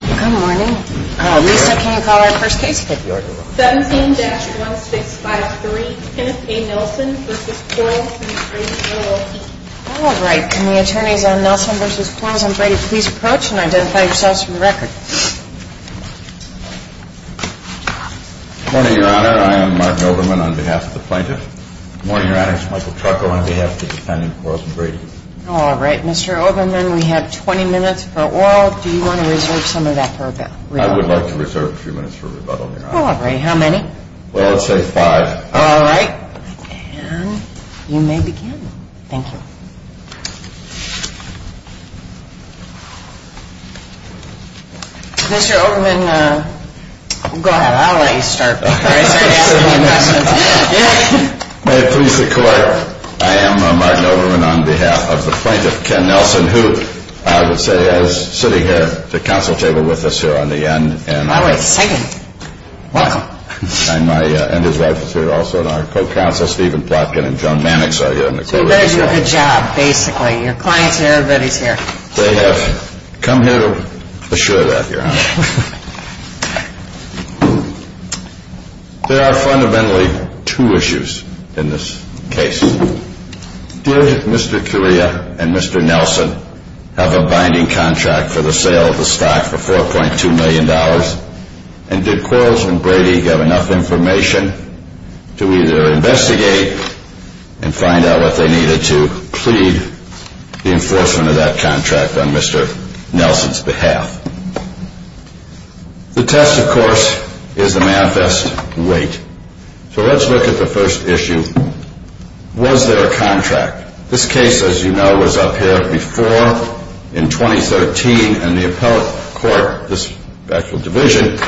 Good morning, can you call our first case please? 17-1653, Tennessee Nelson v. Quarles & Brady, LLP Alright, can the attorneys on Nelson v. Quarles & Brady please approach and identify yourselves from the record? Good morning Your Honor, I am Mark Overman on behalf of the plaintiff. Good morning Your Honor, it's Michael Trucker on behalf of the defendant, Quarles & Brady. Alright, Mr. Overman, we have 20 minutes for oral, do you want to reserve some of that for a bit? I would like to reserve a few minutes for rebuttal, Your Honor. Alright, how many? Well, I'd say five. Alright, and you may begin. Thank you. Mr. Overman, go ahead, I'll let you start. May I please declare, I am Mark Overman on behalf of the plaintiff, Ken Nelson, who I would say is sitting here at the counsel table with us here on the end. Alright, thank you. You're welcome. And my undersecretary also on our co-counsel, Stephen Plotkin and John Mannix are here. So you guys do a good job, basically. Your clients are here, everybody's here. They have come here to assure that, Your Honor. There are fundamentally two issues in this case. Did Mr. Correa and Mr. Nelson have a binding contract for the sale of the stock for $4.2 million? And did Quarles & Brady have enough information to either investigate and find out if they needed to plead the enforcement of that contract on Mr. Nelson's behalf? The test, of course, is the manifest weight. So let's look at the first issue. Was there a contract? This case, as you know, was up here before in 2013, and the appellate court, this actual division,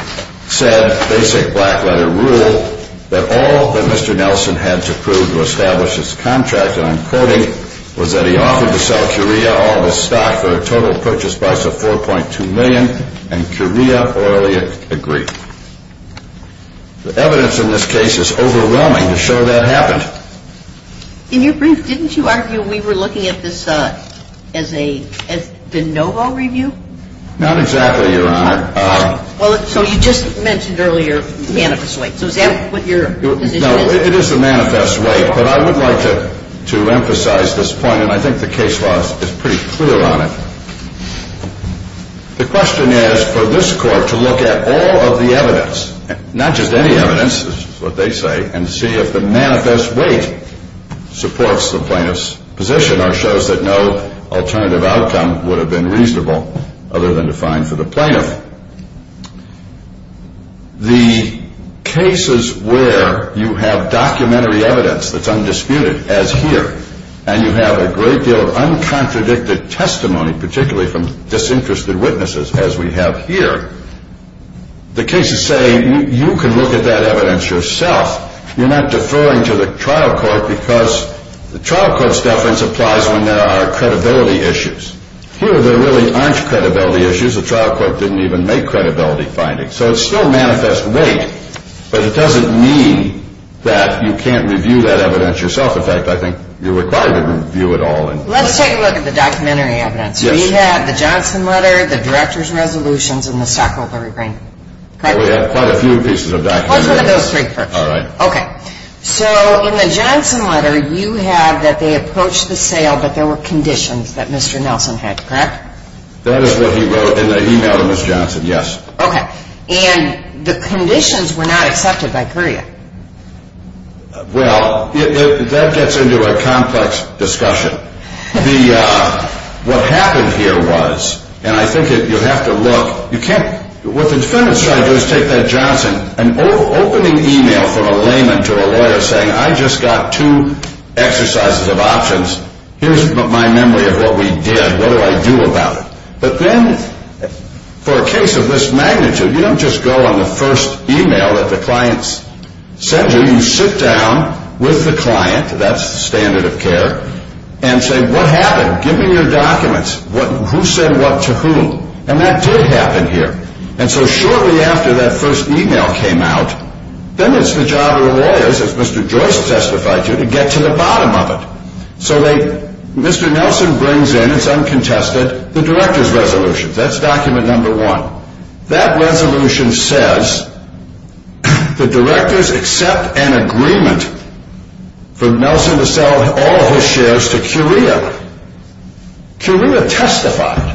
said, basic black-letter rule, that all that Mr. Nelson had to prove to establish his contract, I'm quoting, was that he offered to sell Correa all the stock for a total purchase price of $4.2 million, and Correa orally agreed. The evidence in this case is overwhelming to show that happened. Didn't you argue we were looking at this as the no-hold review? Not exactly, Your Honor. So you just mentioned earlier the manifest weight. No, it is the manifest weight, but I would like to emphasize this point, and I think the case law is pretty clear on it. The question is for this court to look at all of the evidence, not just any evidence is what they say, and see if the manifest weight supports the plaintiff's position or shows that no alternative outcome would have been reasonable other than to fine for the plaintiff. The cases where you have documentary evidence that's undisputed, as here, and you have a great deal of uncontradicted testimony, particularly from disinterested witnesses, as we have here, the case is saying you can look at that evidence yourself. You're not deferring to the trial court because the trial court's deference applies when there are credibility issues. Here there really aren't credibility issues. Here's a trial court that didn't even make credibility findings. So it's still manifest weight, but it doesn't mean that you can't review that evidence yourself. In fact, I think you're required to review it all. Let's take a look at the documentary evidence. We have the Johnson letter, the Director's Resolutions, and the Sacco-Hurricane. We have quite a few pieces of documentary evidence. I'll put those three first. All right. Okay. So in the Johnson letter you have that they approached the sale, but there were conditions that Mr. Nelson had, correct? That is what he wrote, and the e-mailing was Johnson, yes. Okay. And the conditions were not accepted by courier. Well, that gets into a complex discussion. What happened here was, and I think you have to look, what the instrument is trying to do is take that Johnson and opening the e-mail from a layman to a lawyer saying, I just got two exercises of options. Here's my memory of what we did. What do I do about it? But then for a case of this magnitude, you don't just go on the first e-mail that the client sent you. You sit down with the client, that's the standard of care, and say, what happened? Give me your documents. Who said what to whom? And that did happen here. And so shortly after that first e-mail came out, then it's the job of the lawyers, as Mr. Joyce testified to, to get to the bottom of it. So Mr. Nelson brings in, and some contested, the director's resolution. That's document number one. That resolution says the directors accept an agreement for Nelson to sell all his shares to Courier. Courier testified.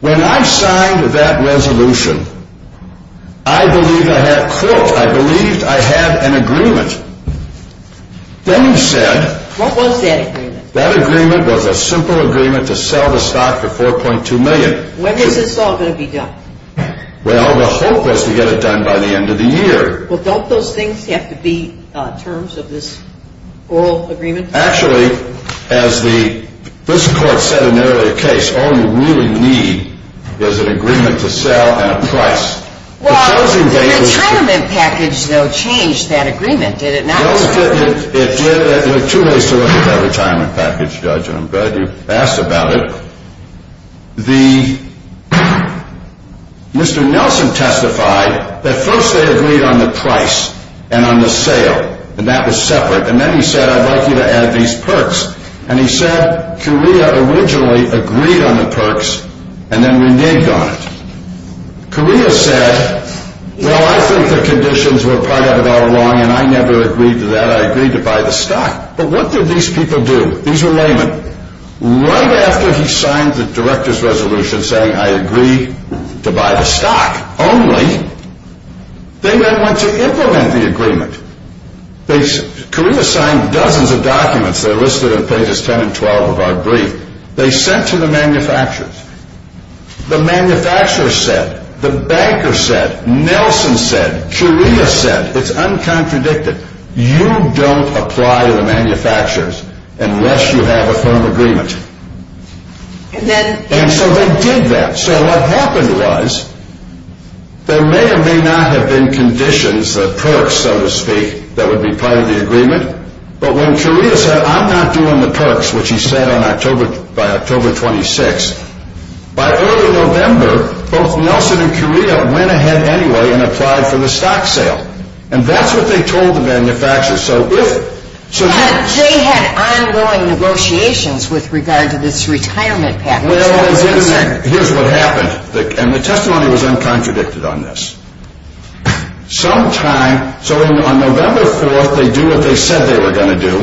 When I signed that resolution, I believed I had an agreement. What was that agreement? That agreement was a simple agreement to sell the stock for $4.2 million. When is this all going to be done? Well, the hope is to get it done by the end of the year. Well, don't those things have to be terms of this oral agreement? Actually, as this court said in the earlier case, all you really need is an agreement to sell and a price. Well, the time of the package, though, changed that agreement, did it not? It did. It was two days towards the time of the package, Judge, and I'm glad you asked about it. Mr. Nelson testified that first they agreed on the price and on the sale, and that was separate. And then he said, I'd like you to add these perks. And he said Courier originally agreed on the perks and then renamed them. Courier said, well, I think the conditions were part of our law, and I never agreed to that. I agreed to buy the stock. But what did these people do? These were laymen. Right after he signed the director's resolution saying, I agree to buy the stock only, they then went to implement the agreement. Courier signed dozens of documents that are listed in places 10 and 12 of our brief. They sent to the manufacturers. The manufacturers said, the bankers said, Nelson said, Courier said, it's uncontradicted, you don't apply to the manufacturers unless you have a firm agreement. And so they did that. So what happened was, there may or may not have been conditions of perks, so to speak, that would be part of the agreement. But when Courier said, I'm not doing the perks, which he said by October 26th, by early November, both Nelson and Courier went ahead anyway and applied for the stock sale. And that's what they told the manufacturers. They had ongoing negotiations with regard to this retirement package. Well, here's what happened. And the testimony was uncontradicted on this. Sometime, so on November 4th, they do what they said they were going to do.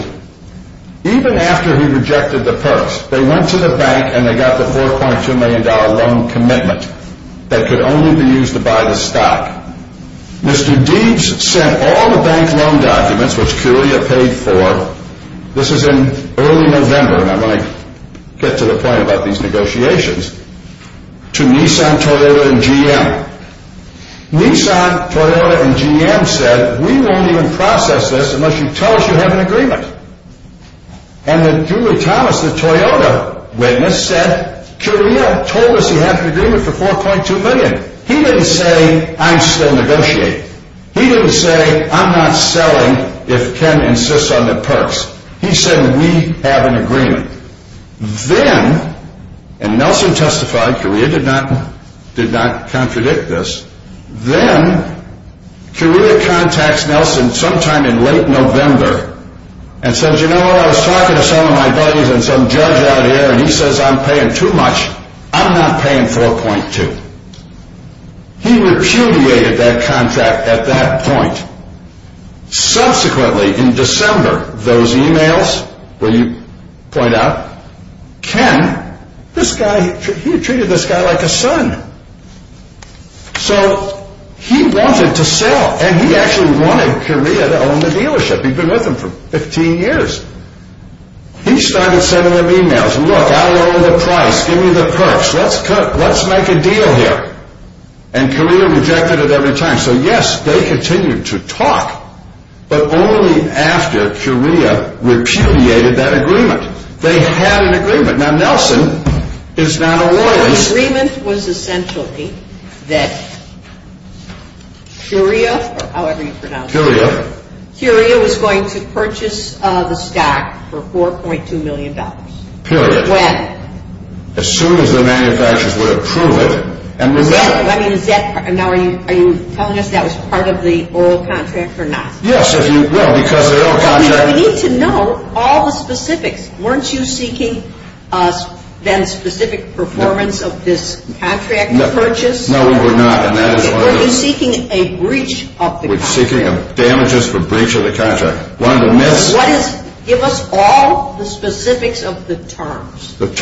Even after he rejected the perks, they went to the bank and they got the $4.2 million loan commitment that could only be used to buy the stock. Mr. Deeds sent all the bank loan documents, which Courier paid for, this was in early November, and I want to get to the point about these negotiations, to Nissan, Toyota, and GM. Nissan, Toyota, and GM said, we won't even process this unless you tell us you have an agreement. And if you would tell us that Toyota, when this said, Courier told us he had an agreement for $4.2 million. He didn't say, I'm still negotiating. He didn't say, I'm not selling if Ken insists on the perks. He said, we have an agreement. Then, and Nelson testified, Courier did not contradict this. Then, Courier contacts Nelson sometime in late November and says, you know what, I was talking to some of my buddies and some judge out here, and he says, I'm paying too much, I'm not paying $4.2. He recuviated that contract at that point. Subsequently, in December, those emails, where you point out, Ken, this guy, he treated this guy like a son. So, he wanted to sell, and he actually wanted Courier to own the dealership. He'd been with them for 15 years. He started sending them emails, look, I own the price, give me the perks, let's make a deal here. And Courier rejected it every time. So, yes, they continued to talk, but only after Courier repudiated that agreement. They had an agreement. Now, Nelson is not a lawyer. The agreement was essentially that Courier, or however you pronounce it, Courier was going to purchase the stock for $4.2 million. Period. As soon as the manufacturers would approve it. And now, are you telling us that was part of the oral contract or not? Yes, as you read, because of the oral contract. Now, we need to know all the specifics. Weren't you seeking that specific performance of this contract purchase? No, we were not. We were seeking a breach of the contract. We were seeking damages for breach of the contract. One of the myths. Give us all the specifics of the terms. All the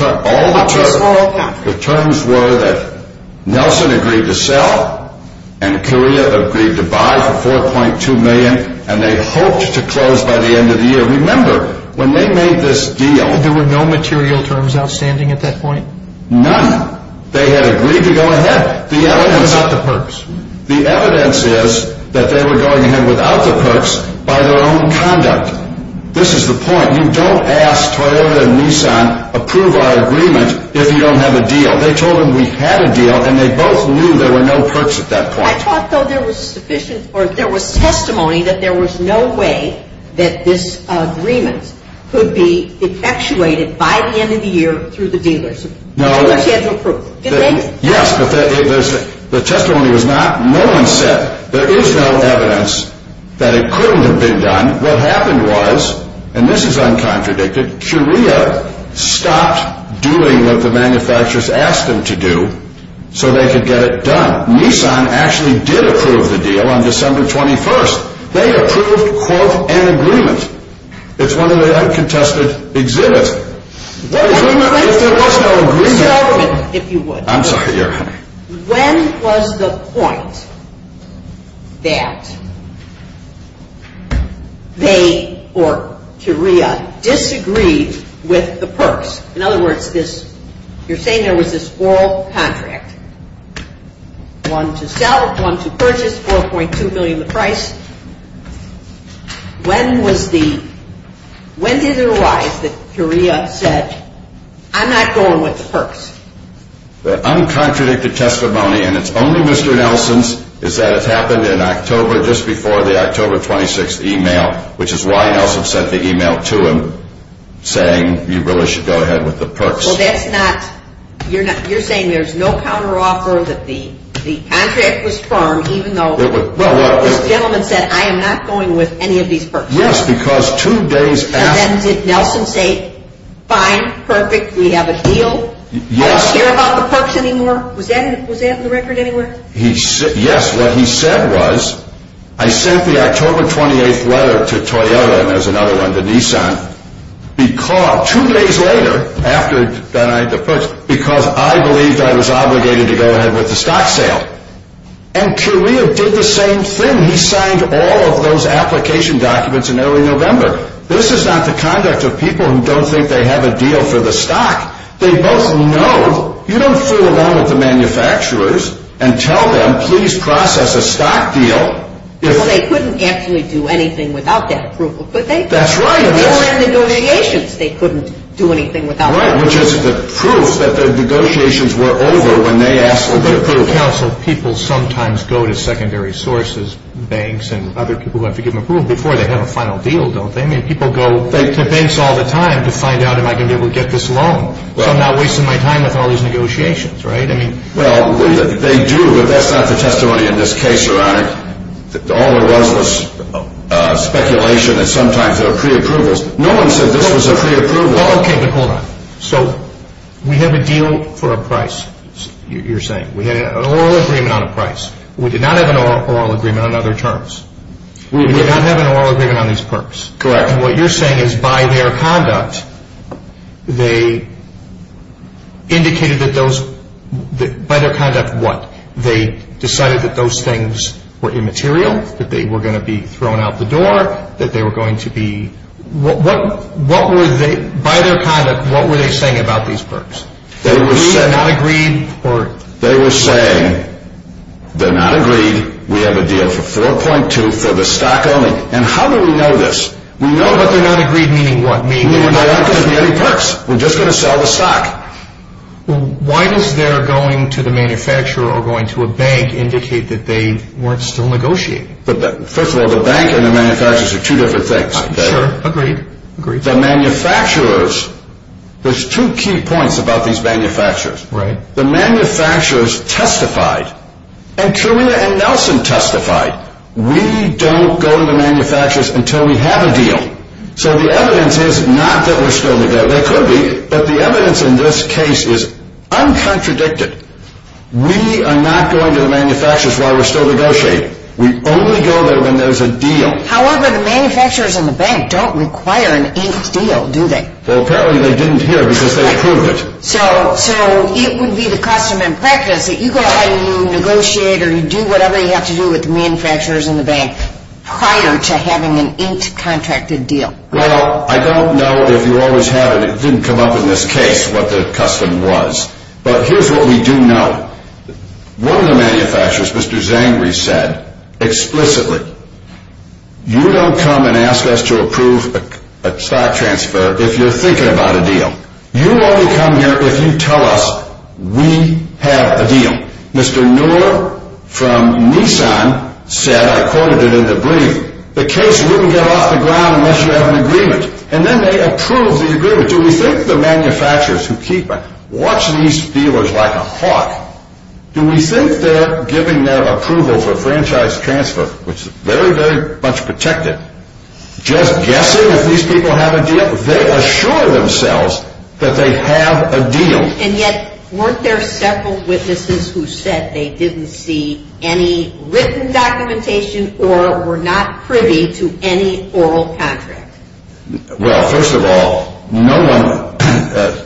terms. The terms were that Nelson agreed to sell, and Courier agreed to buy for $4.2 million, and they hoped to close by the end of the year. Remember, when they made this deal. There were no material terms outstanding at that point? None. They had agreed to go ahead. The evidence is not the perks. The evidence is that they were going in without the perks by their own conduct. This is the point. You don't ask Courier and Nissan to approve our agreement if you don't have a deal. They told them we had a deal, and they both knew there were no perks at that point. I thought, though, there was testimony that there was no way that this agreement could be effectuated by the end of the year through the dealers. No. Yes, but the testimony was not. No one said there is no evidence that it could have been done. What happened was, and this is uncontradicted, Courier stopped doing what the manufacturers asked them to do so they could get it done. Nissan actually did approve the deal on December 21st. They approved, quote, an agreement. It's one of the uncontested exhibits. I'm sorry. When was the point that they, or Courier, disagreed with the perks? In other words, you're saying there was this full contract, one to sell, one to purchase, 4.2 million the price. When was the, when did it arise that Courier said, I'm not going with the perks? The uncontradicted testimony, and it's only Mr. Nelson's, is that it happened in October, just before the October 26th email, which is why Nelson sent the email to him saying, you really should go ahead with the perks. Well, that's not, you're saying there's no counteroffer that the contract was firm even though the gentleman said, I am not going with any of these perks. Yes, because two days after. And then did Nelson say, fine, perfect, we have a deal? Yes. I don't care about the perks anymore? Was that in the record anywhere? Yes, what he said was, I sent the October 28th letter to Toyota, and there's another one to Nissan. He called two days later after that I had the perks because I believed I was obligated to go ahead with the stock sale. And Courier did the same thing. He signed all of those application documents in early November. This is not the conduct of people who don't think they have a deal for the stock. They both know, you don't sit around with the manufacturers and tell them, please process a stock deal. Well, they couldn't actually do anything without that approval. That's right. They couldn't do anything without that approval. Right, which is the proof that the negotiations were over when they asked for the approval. People sometimes go to secondary sources, banks and other people who have to give them approval before they have a final deal, don't they? People go to banks all the time to find out, am I going to be able to get this loan? I'm not wasting my time with all those negotiations, right? Well, they do, but that's not the testimony in this case. All I have is speculation that sometimes there are pre-approvals. No one said this was a pre-approval. It all came to court. So, we have a deal for a price, you're saying. We have an oral agreement on a price. We do not have an oral agreement on other terms. We do not have an oral agreement on these perks. Correct. And what you're saying is by their conduct, they indicated that those, by their conduct what? They decided that those things were immaterial, that they were going to be thrown out the door, that they were going to be, what were they, by their conduct, what were they saying about these perks? They were saying, they're not agreed, we have a deal for 3.2 for the stock only. And how do we know this? We know that they're not agreed, meaning what? Meaning they're not going to give me any perks. We're just going to sell the stock. Why does their going to the manufacturer or going to a bank indicate that they weren't still negotiating? First of all, the bank and the manufacturers are two different things. Sure. Agreed. Agreed. The manufacturers, there's two key points about these manufacturers. Right. The manufacturers testified, and Carina and Nelson testified, we don't go to the manufacturers until we have a deal. So, the evidence is not that we're still negotiating. There could be, but the evidence in this case is uncontradicted. We are not going to the manufacturers while we're still negotiating. We only go there when there's a deal. However, the manufacturers and the bank don't require an ink deal, do they? Well, apparently they didn't here because there's proof of it. So, it would be the custom and practice that you go out and you negotiate or you do whatever you have to do with the manufacturers and the bank prior to having an ink contracted deal. Well, I don't know if you always have, and it didn't come up in this case, what the custom was. But here's what we do know. One of the manufacturers, Mr. Zangri, said explicitly, you don't come and ask us to approve a stock transfer if you're thinking about a deal. You only come here if you tell us we have a deal. Mr. Newell from Nissan said, I quoted it in the agreement, the case wouldn't get off the ground unless you have an agreement. And then they approved the agreement. But do we think the manufacturers who keep watching these dealers like a hawk, do we think they're giving their approval for franchise transfer, which is very, very much protected, just guessing if these people have a deal? They assure themselves that they have a deal. And yet, weren't there several witnesses who said they didn't see any written documentation or were not privy to any oral contract? Well, first of all, no one,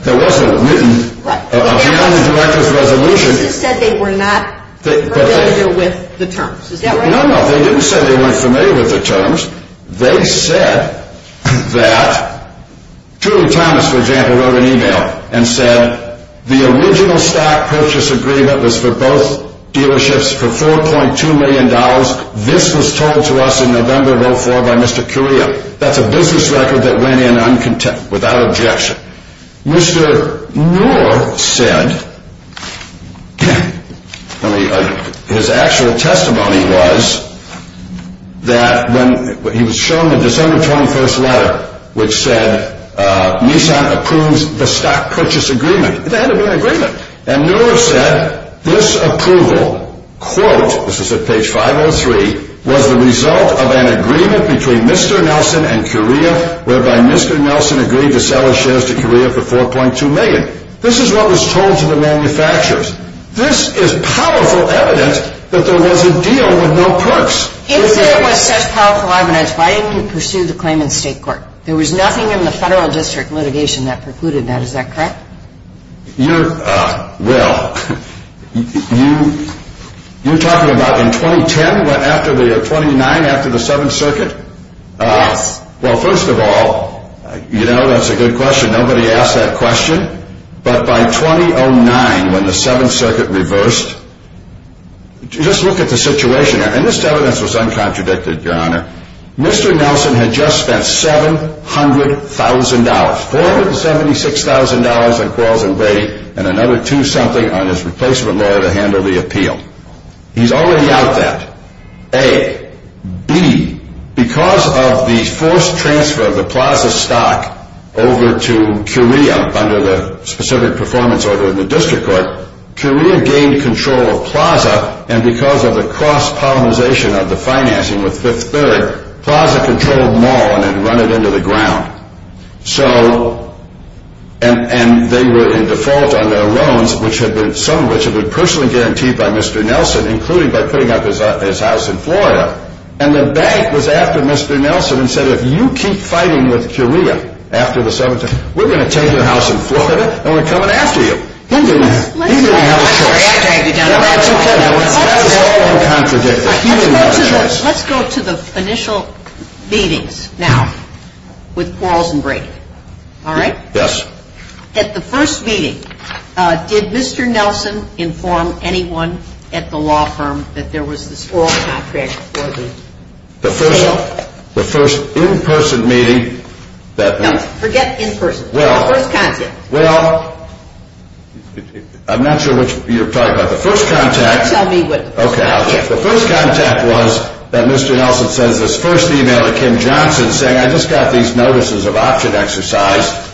there wasn't a written, a hand-written resolution. You said they were not familiar with the terms. No, no, they didn't say they weren't familiar with the terms. They said that, Trudy Thomas, for example, wrote an email and said, the original stock purchase agreement was for both dealerships for $4.2 million. This was told to us in November of 2004 by Mr. Curio. That's a business record that went in without objection. Mr. Moore said, his actual testimony was that when he was shown the December 21st letter, which said Nissan approves the stock purchase agreement. It's a hand-written agreement. And Moore said, this approval, quote, this is at page 503, was the result of an agreement between Mr. Nelson and Curio, whereby Mr. Nelson agreed to sell his shares to Curio for $4.2 million. This is what was told to the manufacturers. This is powerful evidence that there was a deal with no perks. If there was such powerful arm in its fighting to pursue the claim in the state court, there was nothing in the federal district litigation that precluded that. Is that correct? Well, you're talking about in 2010, after the 29th, after the 7th Circuit? Well, first of all, you know that's a good question. Nobody asked that question. But by 2009, when the 7th Circuit reversed, just look at the situation there. And this evidence was uncontradicted, Your Honor. Mr. Nelson had just spent $700,000, $476,000 in wealth and weight and another two-something on his replacement lawyer to handle the appeal. He's already got that. A. B. Because of the forced transfer of the Plaza stock over to Curio under the specific performance order of the district court, Curio gained control of Plaza, and because of the cross-pollinization of the financing with Fifth Third, Plaza controlled them all and then run it into the ground. And they were in default on their loans, some of which were personally guaranteed by Mr. Nelson, including by putting up his house in Florida. And the bank was after Mr. Nelson and said, if you keep fighting with Curio after the 7th Circuit, we're going to take your house in Florida and we're coming after you. Let's go to the initial meetings now with quarrels and breakups. All right? Yes. At the first meeting, did Mr. Nelson inform anyone at the law firm that there was this oral contract for him? The first in-person meeting that night. No, forget in-person. Well, I'm not sure what you're talking about. The first contact was that Mr. Nelson sent his first email to Kim Johnson saying I just got these notices of option exercise.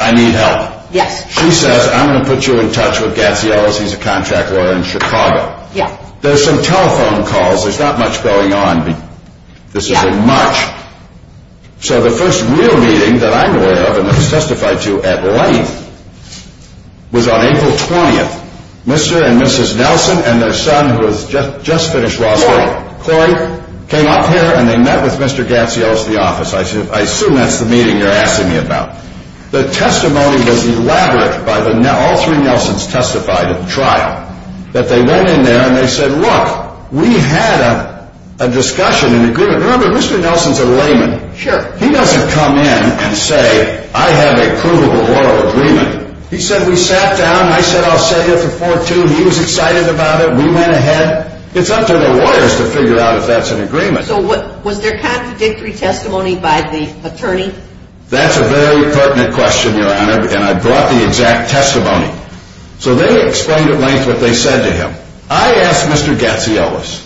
I need help. Yes. He said, I'm going to put you in touch with Gabby Ellis. He's a contract lawyer in Chicago. Yes. There's some telephone calls. There's not much going on. This is in March. So the first real meeting that I'm aware of and testified to at length was on April 20th. Mr. and Mrs. Nelson and their son, who has just finished law school, came up here and they met with Mr. Gabby Ellis at the office. I assume that's the meeting you're asking me about. The testimony was elaborate by all three Nelsons testified at the trial, that they went in there and they said, look, we had a discussion and agreement. Remember, Mr. Nelson's a layman. Sure. He doesn't come in and say, I have a congruent oral agreement. He said, we sat down, I said I'll send it to 4-2, he was excited about it, we went ahead. It's up to the lawyers to figure out if that's an agreement. So was there contradictory testimony by the attorneys? That's a very pertinent question, Your Honor, and I brought the exact testimony. So they explained at length what they said to him. I asked Mr. Gabby Ellis.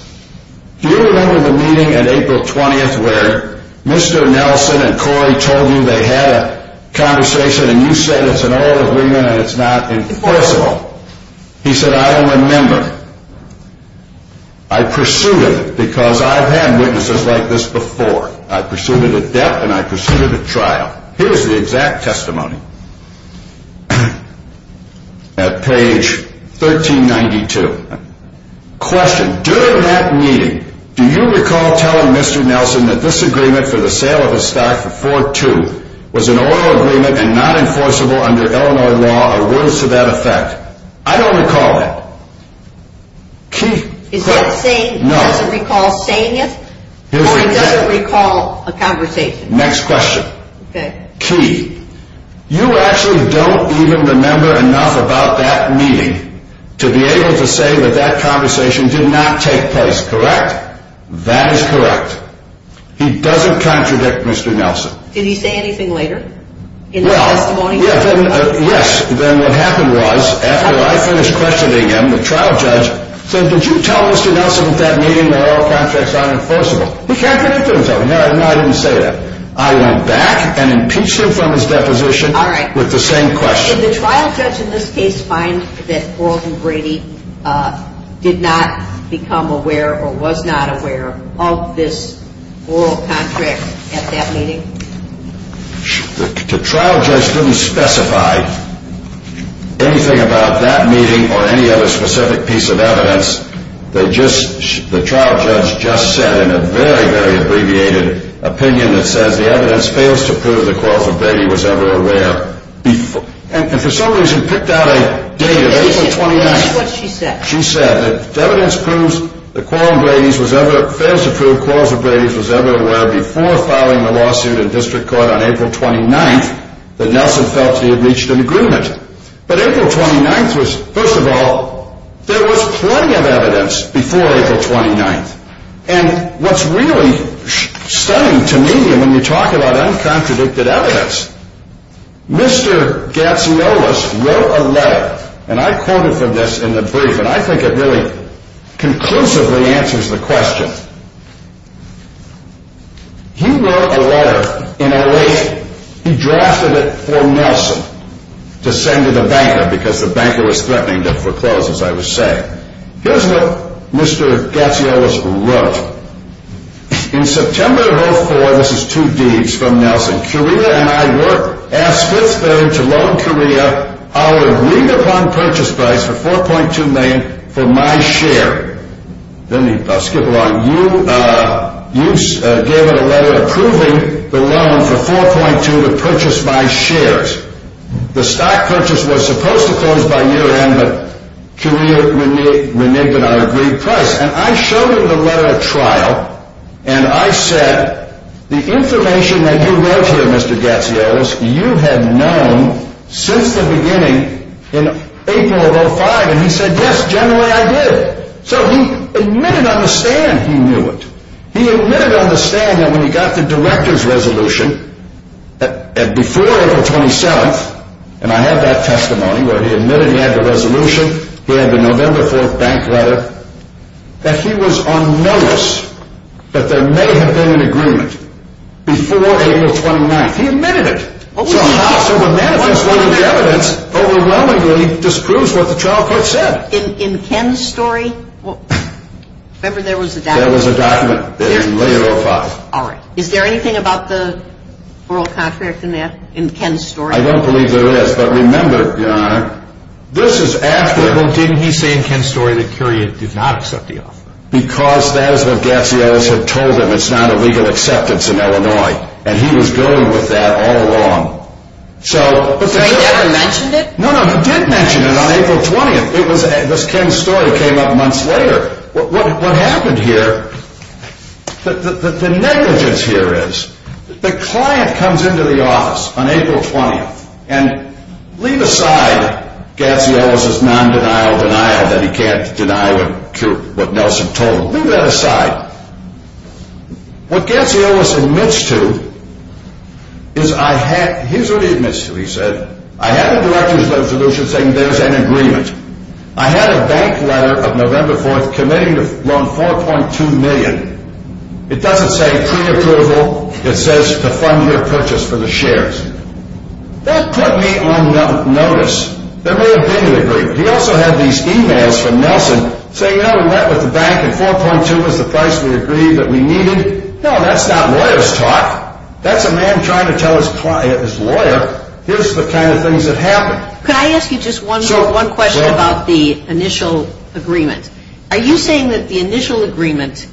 Do you remember the meeting on April 20th where Mr. Nelson and Corey told you they had a conversation and you said it's an oral agreement and it's not incompressible? He said, I don't remember. I pursued it because I've had witnesses like this before. I pursued it at depth and I pursued it at trial. Here's the exact testimony at page 1392. Question. During that meeting, do you recall telling Mr. Nelson that this agreement for the sale of a stack for 4-2 was an oral agreement and not enforceable under Illinois law or words to that effect? I don't recall that. Is that saying he doesn't recall saying it? Or he doesn't recall a conversation? Next question. Key. You actually don't even remember enough about that meeting to be able to say that that conversation did not take place, correct? That is correct. He doesn't contradict Mr. Nelson. Did he say anything later in the testimony? Yes. Then what happened was after I finished questioning him, the trial judge said, did you tell Mr. Nelson at that meeting that oral contracts aren't enforceable? He contradicted himself. No, I didn't say that. I went back and impeached him from his deposition with the same question. Did the trial judge in this case find that Oralton Brady did not become aware or was not aware of this oral contract at that meeting? The trial judge didn't specify anything about that meeting or any other specific piece of evidence. The trial judge just said in a very, very abbreviated opinion that said the evidence fails to prove that Oralton Brady was ever aware. And for some reason picked out a date of April 29th. That's what she said. She said that the evidence fails to prove that Oralton Brady was ever aware before filing the lawsuit in district court on April 29th that Nelson felt he had reached an agreement. But April 29th was, first of all, there was plenty of evidence before April 29th. And what's really stunning to me when you talk about uncontradicted evidence, Mr. Gacielos wrote a letter, and I quoted from this in the brief, and I think it really conclusively answers the question. He wrote a letter in a way that he drafted it for Nelson to send to the bank because the bank was threatening to foreclose, as I was saying. Here's what Mr. Gacielos wrote. In September of 2004, this is two Ds from Nelson, Career and I worked at Switzerland to loan Career our read-upon purchase price of $4.2 million for my share. Then he, I'll skip along. You gave a letter approving the loan of $4.2 million to purchase my shares. The stock purchase was supposed to close by year-end, but Career reneged on agreed price. And I showed him the letter at trial, and I said, the information that you wrote here, Mr. Gacielos, you have known since the beginning in April of 2005. And he said, yes, generally I did. So he admitted on the stand he knew it. He admitted on the stand that when he got the director's resolution, that before April 27th, and I have that testimony where he admitted he had the resolution, he had the November 4th bank letter, that he was on notice that there may have been an agreement before April 29th. He admitted it! So when that one's going to be evidence, overwhelmingly it disproves what the child court said. In Ken's story? Well, remember there was a document. There was a document. All right. Is there anything about the oral contract in Ken's story? I don't believe there is. But remember, Your Honor, this is after... Well, didn't he say in Ken's story that Career did not accept the offer? Because that is what Gacielos had told him. It's not a legal acceptance in Illinois. And he was dealing with that all along. Did he ever mention it? No, no, he did mention it on April 20th. This Ken's story came up months later. What happened here, the negligence here is, the client comes into the office on April 20th, and leave aside Gacielos' non-denial denial, that he can't deny what Nelson told him, leave that aside. What Gacielos admits to is I had, he's already admitted to it, he said, I had a letter sent to Lucia saying there's an agreement. I had a bank letter of November 4th committing to loan $4.2 million. It doesn't say pre-approval. It says to fund your purchase for the shares. That put me on notice. There would have been an agreement. We also have these emails from Nelson saying, oh, we went to the bank and $4.2 was the price we agreed that we needed. No, that's not lawyer's talk. That's a man trying to tell his lawyer, here's the kind of things that happened. Can I ask you just one question about the initial agreement? Are you saying that the initial agreement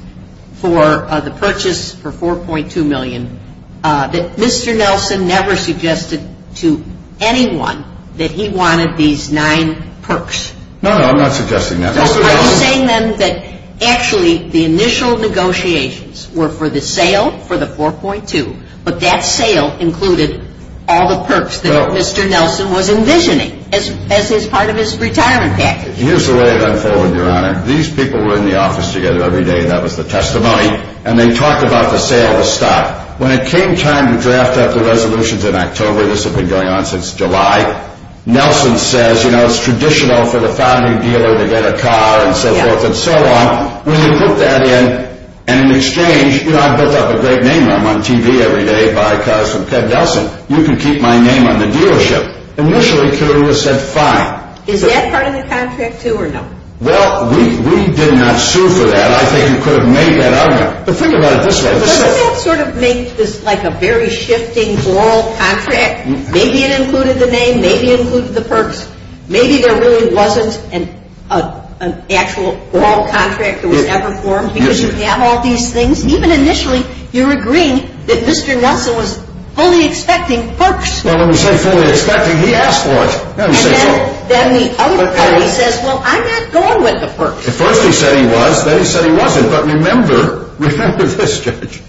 for the purchase for $4.2 million, that Mr. Nelson never suggested to anyone that he wanted these nine perks? No, no, I'm not suggesting that. Are you saying then that actually the initial negotiations were for the sale for the $4.2, but that sale included all the perks that Mr. Nelson was envisioning as part of his retirement package? Here's the way I'm telling you, Your Honor. These people were in the office together every day. That was the testimony. And they talked about the sale of stock. When it came time to draft up the resolutions in October, this had been going on since July, Nelson says, you know, it's traditional for the founding dealer to get a car and so forth and so on. When they put that in, and in exchange, you know, I put up a great name on TV every day, buy cars from Ted Nelson, you can keep my name on the dealership. Initially, it was said, fine. Is that part of the contract, too, or no? Well, we did not sue for that. I think you could have made that argument. But think about it this way. So that sort of makes this like a very shifting oral contract. Maybe it included the name. Maybe it included the perks. Maybe there really wasn't an actual oral contract that was ever formed. You didn't have all these things. Even initially, you were agreeing that Mr. Nelson was fully expecting perks. Well, when he said fully expecting, he asked for it. And then the other guy, he says, well, I'm not going with the perks. At first he said he was. Then he said he wasn't. But remember, remember this, Judge.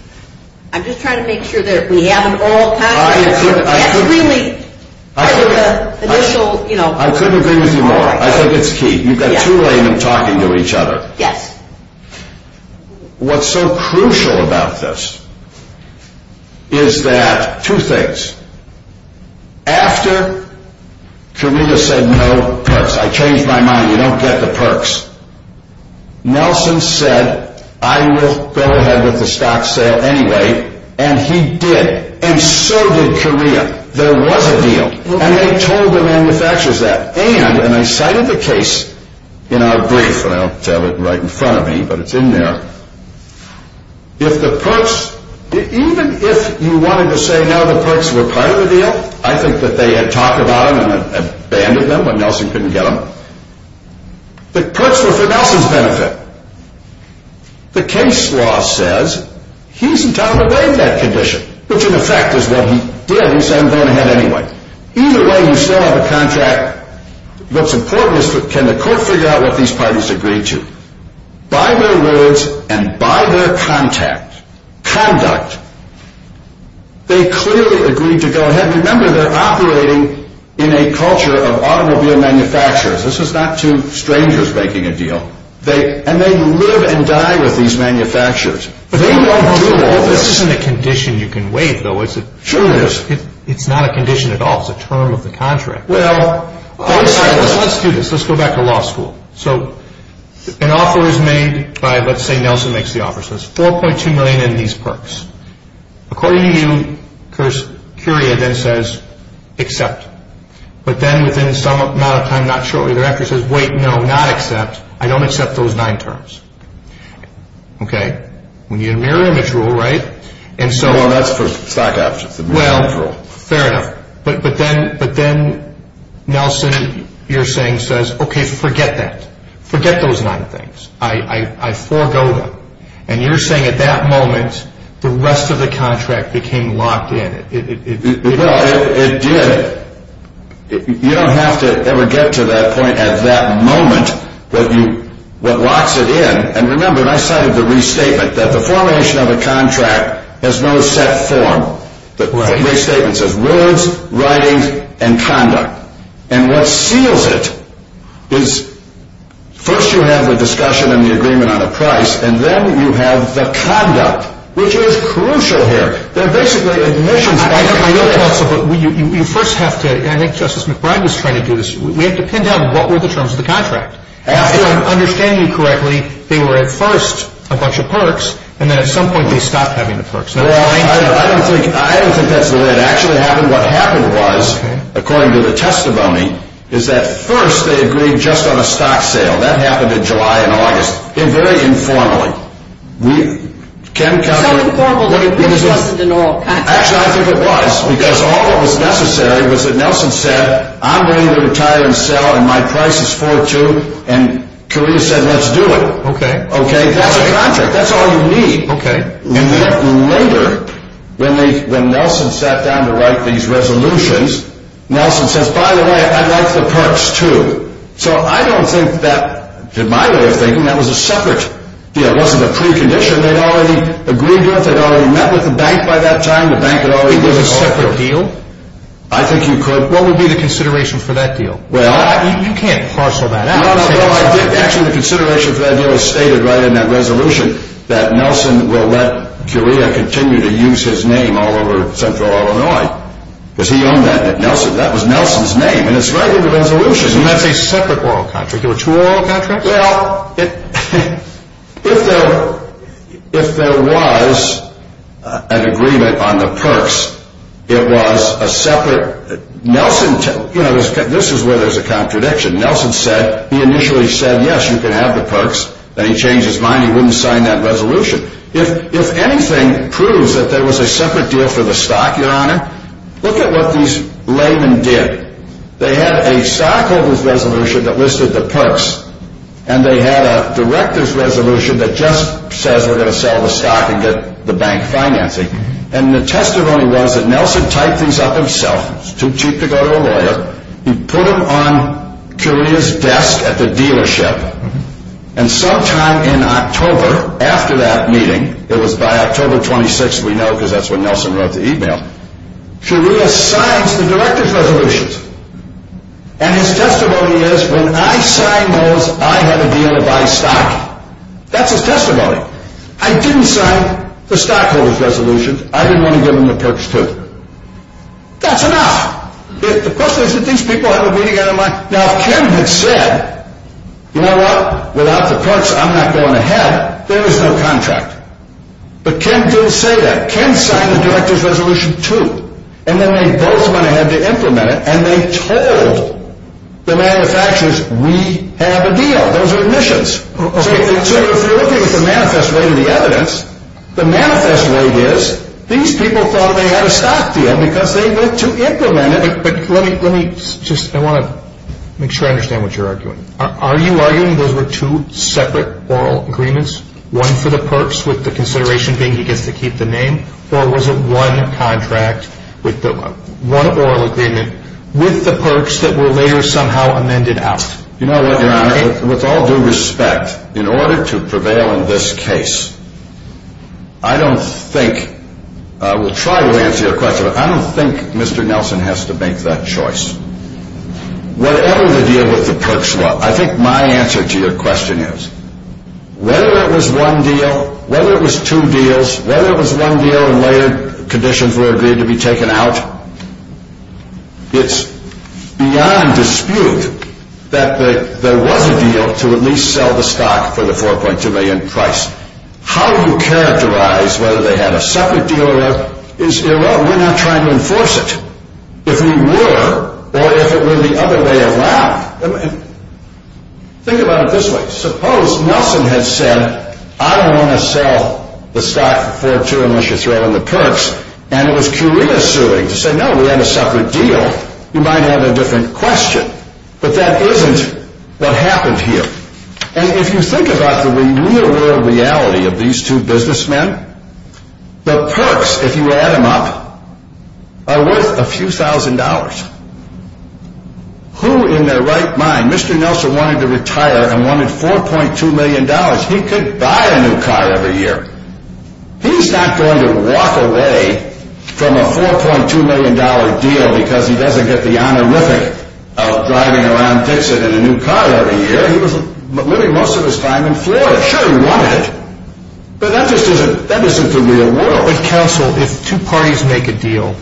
I'm just trying to make sure that we have an oral contract. I agree with you. I couldn't agree with you more. I think it's key. You've got two women talking to each other. Yes. What's so crucial about this is that, two things. After Camila said, no perks, I changed my mind. You don't get the perks. Nelson said, I will go ahead with the stock sale anyway. And he did. And so did Korea. There was a deal. And they told the manufacturers that. And they signed the case in our brief. I don't have it right in front of me, but it's in there. If the perks, even if you wanted to say, no, the perks were part of the deal, I think that they had talked about it and abandoned them, but Nelson couldn't get them. The perks were for Nelson's benefit. The case law says, he's in top of that condition, which in effect is what he said he was going to have anyway. Either way, we still have a contract. What's important is, can the court figure out what these partners agreed to? By their words and by their conduct, they clearly agreed to go ahead. Remember, they're operating in a culture of automobile manufacturers. This is not two strangers making a deal. And they live and die with these manufacturers. But this isn't a condition you can waive, though. It's not a condition at all. It's a term of the contract. Well, let's do this. Let's go back to law school. So an offer is made by, let's say Nelson makes the offer. It says $4.2 million in these perks. According to you, Korea then says, accept. But then within some amount of time, not shortly thereafter, he says, wait, no, not accept. I don't accept those nine terms. Okay? When you're marrying a girl, right? And so on. Well, that's for stock options. Well, fair enough. But then Nelson, you're saying, says, okay, forget that. Forget those nine things. I forgo them. And you're saying at that moment, the rest of the contract became locked in. Well, it did. You don't have to ever get to that point at that moment that locks it in. And remember, and I cited the restatement, that the formation of a contract has no set form. The restatement says words, writing, and conduct. And what seals it is first you have the discussion and the agreement on a price, and then you have the conduct, which is crucial here. You first have to, and I think Justice McBride was trying to do this, we have to pin down what were the terms of the contract. If I understand you correctly, they were at first a bunch of perks, and then at some point they stopped having the perks. Well, I don't think that's the way it actually happened. What happened was, according to the testimony, is that first they agreed just on a stock sale. That happened in July and August. Very informally. How informally? I think it was, because all that was necessary was that Nelson said, I'm willing to retire and sell, and my price is 4.2, and Carina said, let's do it. Okay. That's all you need. And we have to remember, when Nelson sat down to write these resolutions, Nelson said, by the way, I like the perks too. So I don't think that, in my way of thinking, that was a separate, you know, it wasn't a precondition. They already agreed with it, they already met with the bank by that time, the bank had already made a separate deal. I think you could. What would be the consideration for that deal? You can't parcel that out. Well, I think actually the consideration for that deal is stated right in that resolution that Nelson will let Carina continue to use his name all over Central Illinois, because he owned that, that was Nelson's name. And it's right in the resolution. You had a separate oral contract. There were two oral contracts? Well, if there was an agreement on the perks, it was a separate, Nelson, you know, this is where there's a contradiction. Nelson said, he initially said, yes, you can have the perks, and he changed his mind, he wouldn't sign that resolution. Look at what these laymen did. They had a stockholder's resolution that listed the perks, and they had a director's resolution that just said we're going to sell the stock and get the bank financing. And the testimony was that Nelson typed these up himself, too cheap to go to a lawyer, he put them on Carina's desk at the dealership, and sometime in October, after that meeting, it was by October 26th, we know, because that's when Nelson wrote the e-mail, Carina signs the director's resolutions. And his testimony is, when I signed those, I had a deal to buy stock. That's his testimony. I didn't sign the stockholder's resolutions. I didn't want to give them the perks, too. That's enough. The question is, did these people have a meeting, and they're like, no, it can't be said. You know what, without the perks, I'm not going to have it. There is no contract. But Ken didn't say that. Ken signed the director's resolution, too. And then they both went ahead and implemented it, and they told the manufacturers, we have a deal. Those are admissions. So if you're looking at the manifest way of the evidence, the manifest way is, these people thought they had a stock deal because they went to implement it. But let me just, I want to make sure I understand what you're arguing. Are you arguing those were two separate oral agreements, one for the perks with the consideration being he gets to keep the name, or was it one contract, one oral agreement, with the perks that were later somehow amended out? You know what, with all due respect, in order to prevail in this case, I don't think, we'll try to answer your question, but I don't think Mr. Nelson has to make that choice. Whatever the deal with the perks was, I think my answer to your question is, whether it was one deal, whether it was two deals, whether it was one deal and later conditions were agreed to be taken out, it's beyond dispute that there was a deal to at least sell the stock for the $4.2 million price. How you characterize whether they had a separate deal or not is irrelevant when you're trying to enforce it. If we were, or if it were the other way around, think about it this way. Suppose Nelson had said, I don't want to sell the stock for $4.2 unless you throw in the perks, and was curiously saying, no, we have a separate deal. You might have a different question. But that isn't what happened here. And if you think about the real world reality of these two businessmen, the perks, if you add them up, are worth a few thousand dollars. Who in their right mind, Mr. Nelson wanted to retire and wanted $4.2 million. He could buy a new car every year. He's not going to walk away from a $4.2 million deal because he doesn't get the honor, really, of driving around Dixon in a new car every year. He was living most of his time in Florida. Sure, he wanted it. But that wasn't the real world. Why don't we cancel if two parties make a deal,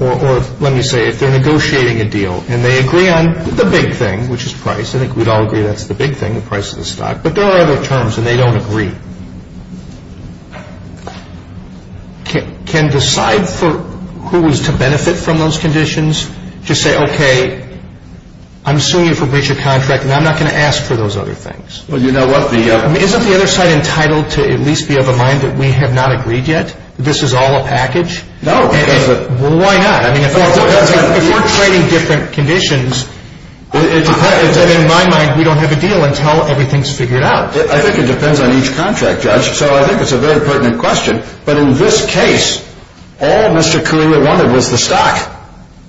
or let me say, if they're negotiating a deal, and they agree on the big thing, which is price, and we'd all agree that's the big thing, the price of the stock, but there are other terms, and they don't agree. Can we decide who is to benefit from those conditions? Just say, okay, I'm suing you for breach of contract, and I'm not going to ask for those other things. Isn't the other side entitled to at least be of the mind that we have not agreed yet? This is all a package? No, it isn't. Well, why not? If we're trading different conditions, in my mind, we don't have a deal until everything's figured out. I think it depends on each contract, Judge, so I think it's a very pertinent question. But in this case, all Mr. Carino wanted was the stock.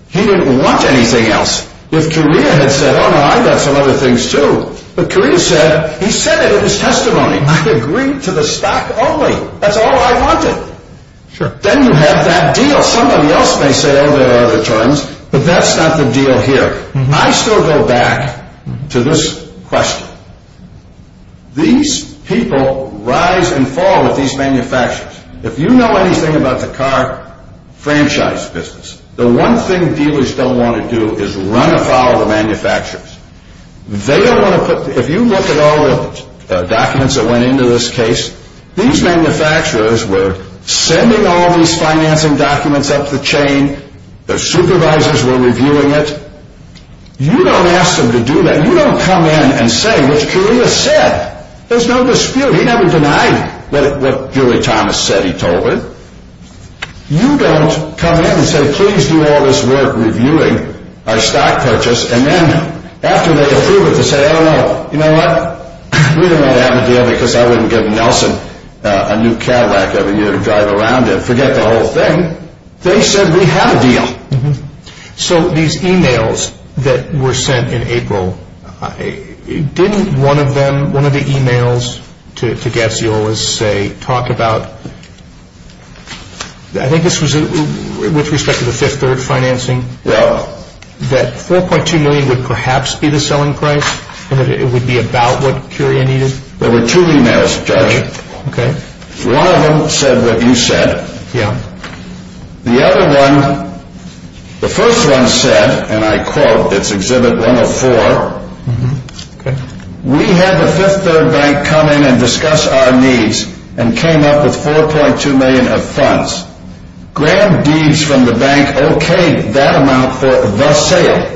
He didn't want anything else. If Carino had said, oh, no, I've got some other things, too, but Carino said, he said it in his testimony. I agreed to the stock only. That's all I wanted. Then you have that deal. Somebody else may say, oh, there are other terms, but that's not the deal here. I still go back to this question. These people rise and fall at these manufacturers. If you know anything about the car franchise business, the one thing dealers don't want to do is run afoul of the manufacturers. If you look at all the documents that went into this case, these manufacturers were sending all these financing documents up the chain. Their supervisors were reviewing it. You don't ask them to do that. You don't come in and say, which Carino said. There's no dispute. He never denied what Julie Thomas said he told her. You don't come in and say, please do all this work reviewing our stock purchase, and then after they approve it, they say, I don't know. You know what? We don't have a deal because I wouldn't give Nelson a new Cadillac every year to drive around in. Forget the whole thing. They said we have a deal. So these e-mails that were sent in April, didn't one of them, one of the e-mails to Fagesio, let's say, talk about, I think this was with respect to the fifth bird financing, that $4.2 million would perhaps be the selling price and that it would be about what Curia needed? There were two e-mails, Jerry. One of them said what you said. The other one, the first one said, and I quote, it's Exhibit 104, we have a fifth bird bank come in and discuss our needs and came up with $4.2 million of funds. Grabbed deeds from the bank, okay, that amount for the sale.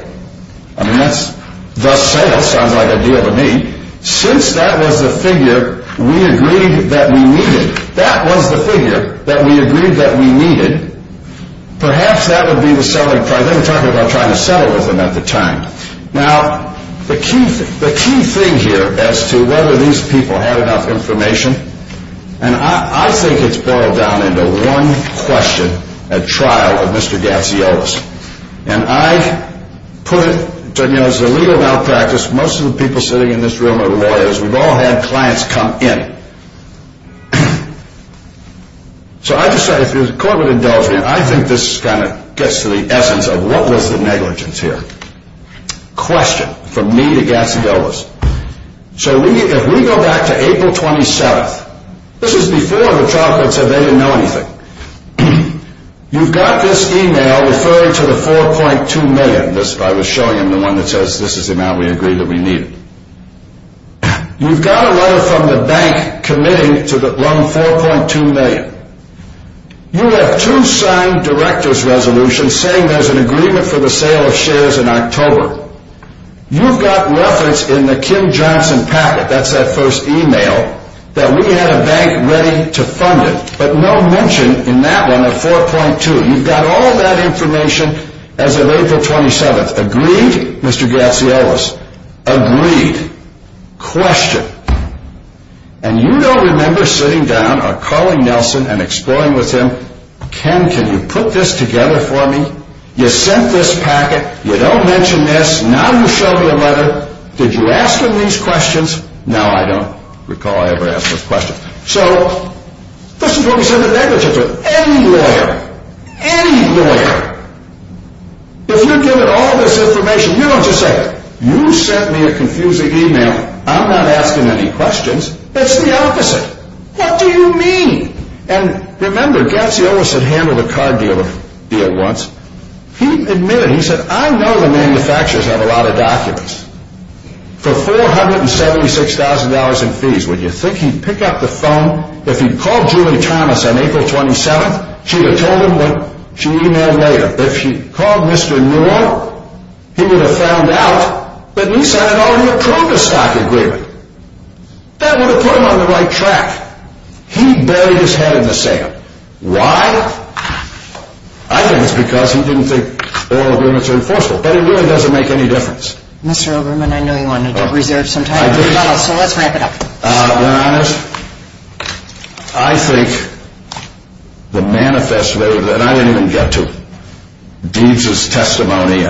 I mean, that's, the sale sounded like a deal to me. Since that was the figure we agreed that we needed, that was the figure that we agreed that we needed, perhaps that would be the selling price. They were talking about trying to settle with them at the time. Now, the key thing here as to whether these people had enough information, and I think it's boiled down into one question at trial of Mr. Gaciovas. And I put, you know, as a legal malpractice, most of the people sitting in this room are lawyers. We've all had clients come in. So I just said if it was a quarter of a million, I think this kind of gets to the essence of what was the negligence here? Question from me to Gaciovas. So if we go back to April 27th, this is before the trial, because they didn't know anything. You've got this email referring to the $4.2 million. I was showing him the one that says this is the amount we agreed that we needed. You've got a letter from the bank committing to the $4.2 million. You've got two signed director's resolutions saying there's an agreement for the sale of shares in October. You've got letters in the Kim Johnson packet, that's that first email, that we had a bank ready to fund it, but no mention in that one of $4.2. You've got all of that information as of April 27th. Agreed, Mr. Gaciovas? Agreed. Question. And you don't remember sitting down or calling Nelson and exploring with him, Ken, can you put this together for me? You sent this packet, you don't mention this, now you show me a letter. Did you ask him these questions? No, I don't recall I ever asked this question. So, this is what he said the day before. Anywhere. Anywhere. And you give him all this information. He wants to say, you sent me a confusing email. I'm not asking any questions. That's the opposite. What do you mean? And remember, Gaciovas had handled a car dealer deal once. He admitted, he said, I know the manufacturers have a lot of documents. For $476,000 in fees, would you think he'd pick up the phone? If he'd called Julie Thomas on April 27th, she would have told him that, she'd email him later. But if she'd called Mr. Newell, he would have found out that he signed an all-inclusive stock agreement. That would have put him on the right track. He'd bury his head in the sand. Why? I think it's because he didn't think that all agreements were enforceable. But in doing, it doesn't make any difference. Mr. Overman, I know you wanted to reserve some time. So let's wrap it up. To be honest, I think the manifesto that I didn't even get to, Deeds' testimony,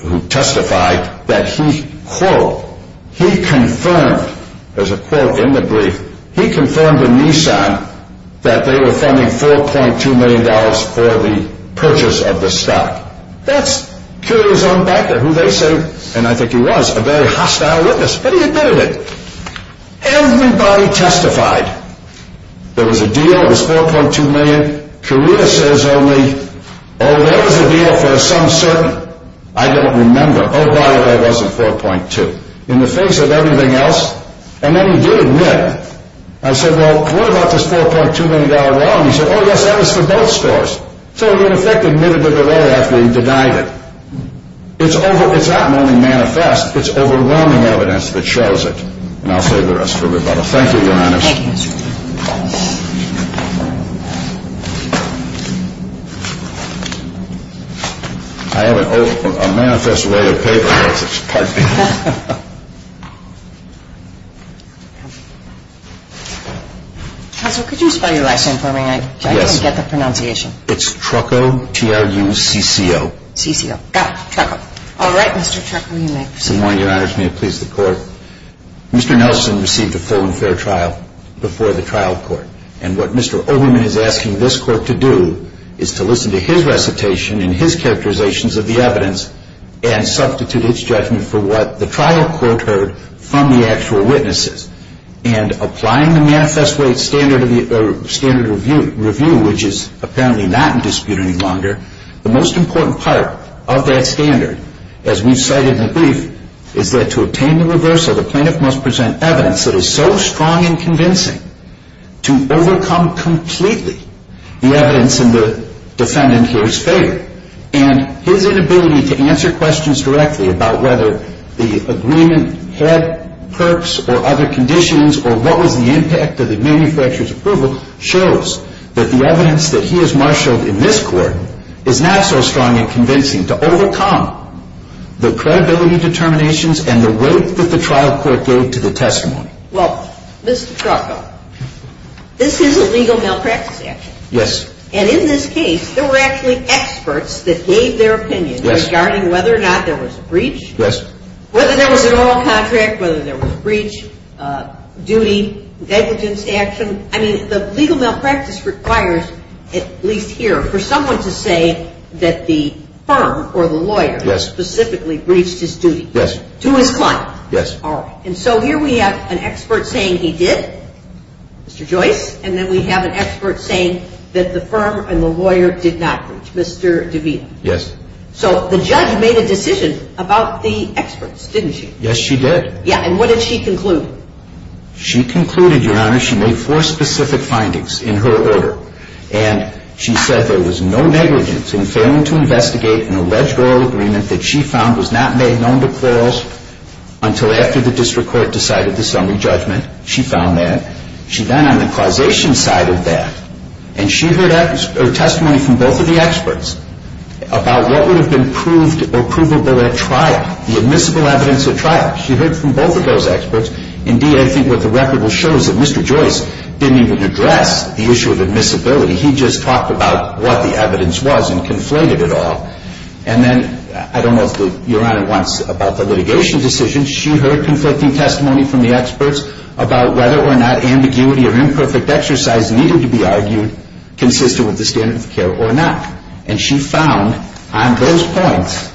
who testified, that he, quote, he confirmed, there's a quote in the brief, he confirmed to Nissan that they were funding $4.2 million for the purchase of the stock. That's truly his own backer, who they say, and I think he was, a very hostile witness. But he admitted it. Everybody testified. There was a deal, it was $4.2 million. Career says only, oh, there was a deal for some certain, I don't remember. Oh, by the way, it wasn't $4.2. In the face of everything else, and then he did admit. I said, well, what about this $4.2 million loan? He said, oh, yes, that was for both stores. So in effect, he admitted it early after he denied it. It's overwhelming manifest. It's overwhelming evidence that shows it. And I'll say the rest of it. Thank you, Your Honor. Thank you, Mr. Overman. Thank you. I have a manifest ready to pay. Counsel, could you spell your last name for me, so I can get the pronunciation? It's Trucco, T-R-U-C-C-O. C-C-O, got it, Trucco. All right, Mr. Trucco, you may proceed. Your Honor, can you please record? Mr. Nelson received a full and fair trial before the trial court. And what Mr. Overman is asking this court to do is to listen to his recitation and his characterizations of the evidence and substitute its judgment for what the trial court heard from the actual witnesses. And applying the manifest grade standard review, which is apparently not in dispute any longer, the most important part of that standard, as we cited in the brief, is that to obtain the reverse of the plaintiff must present evidence that is so strong and convincing to overcome completely the evidence in the defendant here's failure. And his inability to answer questions directly about whether the agreement had perks or other conditions or what was the impact of the manufacturer's approval shows that the evidence that he has marshaled in this court is not so strong and convincing to overcome the credibility determinations and the weight that the trial court gave to the testimony. Well, Mr. Trucco, this is a legal malpractice action. Yes. And in this case, there were actually experts that gave their opinion regarding whether or not there was breach. Yes. Whether there was an oral contract, whether there was breach, duty, negligence action. The legal malpractice requires, at least here, for someone to say that the firm or the lawyer specifically breached his duty to his client. Yes. And so here we have an expert saying he did, Mr. Joyce, and then we have an expert saying that the firm and the lawyer did not breach, Mr. DeVito. Yes. So the judge made a decision about the experts, didn't she? Yes, she did. And what did she conclude? She concluded, Your Honor, she made four specific findings in her order, and she said there was no negligence in failing to investigate an alleged oral agreement that she found was not made known to plurals until after the district court decided to send a judgment. She found that. She then on the causation side of that, and she heard her testimony from both of the experts about what would have been proved or provable by that trial, the admissible evidence of trial. She heard from both of those experts. Indeed, I think there's a record that shows that Mr. Joyce didn't even address the issue of admissibility. He just talked about what the evidence was and conflated it all. And then, I don't know if Your Honor wants about the litigation decision, she heard conflicting testimony from the experts about whether or not ambiguity or imperfect exercise needed to be argued consistent with the standard of care or not. And she found on those points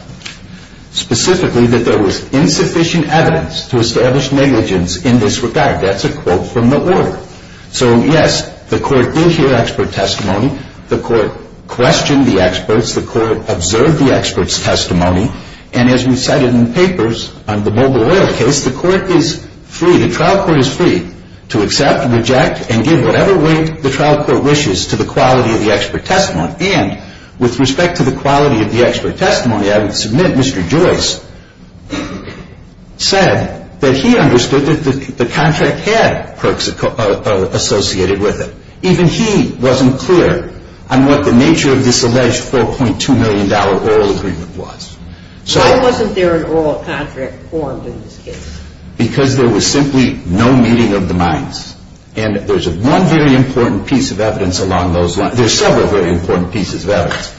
specifically that there was insufficient evidence to establish negligence in this regard. That's a quote from the order. So, yes, the court did hear expert testimony. The court questioned the experts. The court observed the experts' testimony. And as we said in the papers on the mobile lawyer case, the court is free, the trial court is free, to accept and reject and give whatever weight the trial court wishes to the quality of the expert testimony. And with respect to the quality of the expert testimony, I would submit Mr. Joyce said that he understood that the contract had perks associated with it. Even he wasn't clear on what the nature of this alleged $4.2 million oral agreement was. Why wasn't there an oral contract formed in this case? Because there was simply no meaning of the minus. And there's one very important piece of evidence along those lines. There's several very important pieces of evidence.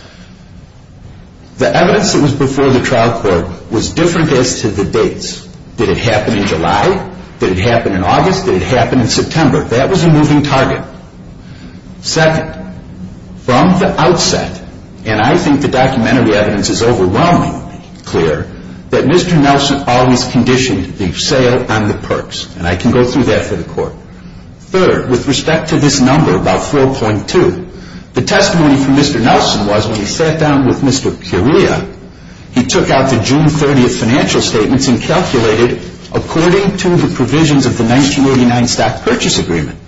The evidence that was before the trial court was different as to the dates. Did it happen in July? Did it happen in August? Did it happen in September? That was a moving target. Second, from the outset, and I think the documentary evidence is overwhelmingly clear, that Mr. Nelson always conditioned the sale on the perks. And I can go through that for the court. Third, with respect to this number about $4.2 million, the testimony from Mr. Nelson was when he sat down with Mr. Peoria, he took out the June 30th financial statements and calculated according to the provisions of the 1989 Stock Purchase Agreement.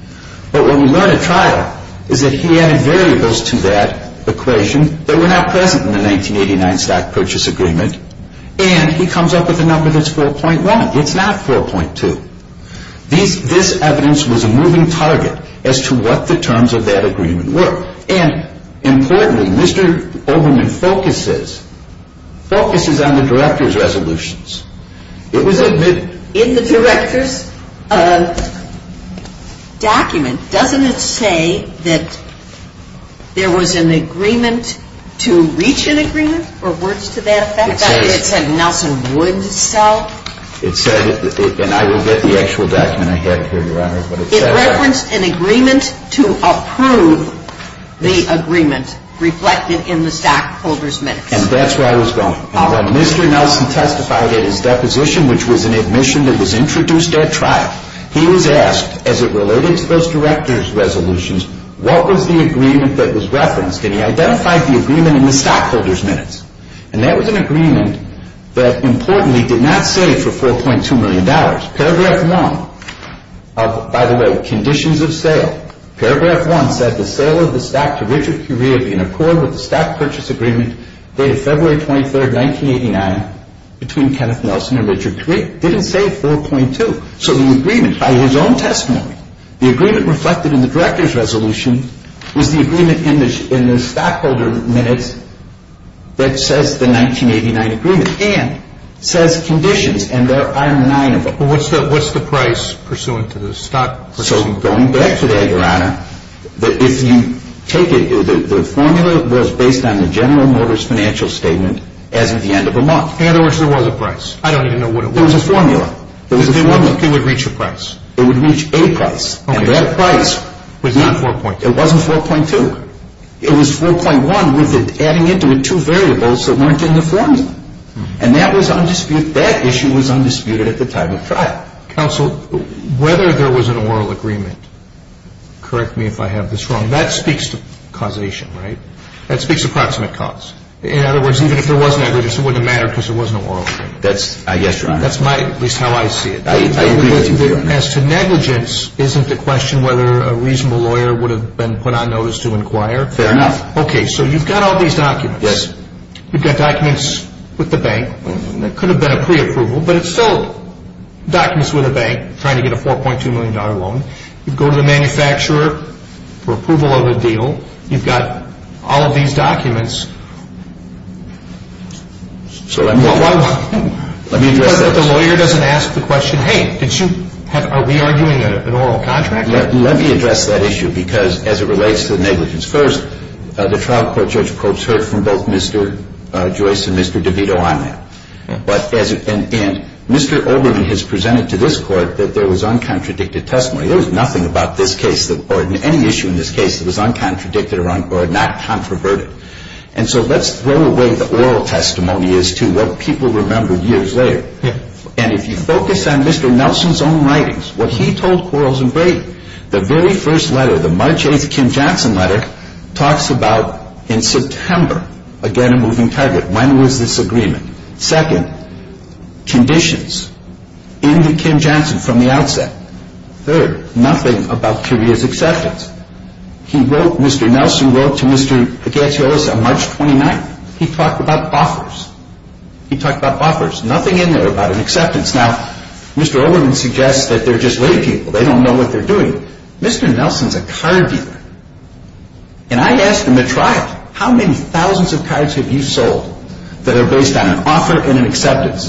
But when we run a trial, is that he adheres to that equation, but we're not present in the 1989 Stock Purchase Agreement, it's not 4.2. This evidence was a moving target as to what the terms of that agreement were. And importantly, Mr. Olbermann focuses on the director's resolutions. It was admitted. In the director's documents, doesn't it say that there was an agreement to reach an agreement? It said that Mr. Nelson would sell. And I will get the actual document back here, Your Honor. It referenced an agreement to approve the agreement reflected in the stockholders' minutes. And that's where I was going. When Mr. Nelson testified in his deposition, which was an admission that was introduced at trial, he was asked, as it related to those director's resolutions, what was the agreement that was referenced? And he identified the agreement in the stockholders' minutes. And that was an agreement that, importantly, did not save for $4.2 million. Paragraph 1, by the way, conditions of sale. Paragraph 1 said, The sale of the stock to Richard Currier in accordance with the Stock Purchase Agreement dated February 23, 1989, between Kenneth Nelson and Richard Currier didn't save 4.2. So the agreement, by his own testimony, The agreement reflected in the director's resolution was the agreement in the stockholders' minutes that says the 1989 agreement, and says conditions, and there are nine of them. What's the price pursuant to the stock? We're still going back to that, Your Honor. But if you take it, the formula was based on the General Motors financial statement at the end of the month. In other words, there was a price. I don't even know what it was. It was a formula. If there was a price, it would reach a price. It would reach a price. And that price was not 4.2. It wasn't 4.2. It was 4.1 with it adding into it two variables that weren't in the formula. And that was undisputed. That issue was undisputed at the time of trial. Counsel, whether there wasn't a moral agreement, correct me if I have this wrong, that speaks to causation, right? That speaks to proximate cause. In other words, even if there was an agreement, it wouldn't matter because there wasn't a moral agreement. Yes, Your Honor. That's at least how I see it. As to negligence, isn't the question whether a reasonable lawyer would have been put on notice to inquire? Fair enough. Okay. So you've got all these documents. Yes. You've got documents with the bank. It could have been a pre-approval, but it's still documents with a bank trying to get a $4.2 million loan. You go to the manufacturer for approval of the deal. You've got all of these documents. The lawyer doesn't ask the question, hey, are we arguing an oral contract? Let me address that issue because as it relates to negligence. First, the trial court judge heard from both Mr. Joyce and Mr. DeVito on that. And Mr. Oberman has presented to this court that there was uncontradicted testimony. There was nothing about this case or any issue in this case that was uncontradicted or not controverted. And so let's throw away the oral testimony as to what people remembered years later. And if you focus on Mr. Nelson's own writings, what he told Quarles and Brady, the very first letter, the March 8th Kim-Johnson letter, talks about in September, again, a moving target. When was this agreement? Second, conditions. Into Kim-Johnson from the outset. Third, nothing about career success. He wrote, Mr. Nelson wrote to Mr. Paganiolos on March 29th. He talked about offers. He talked about offers. Nothing in there about an acceptance. Now, Mr. Oberman suggests that they're just lazy people. They don't know what they're doing. Mr. Nelson's a card dealer. And I asked him at trial, how many thousands of cards have you sold that are based on an offer and an acceptance?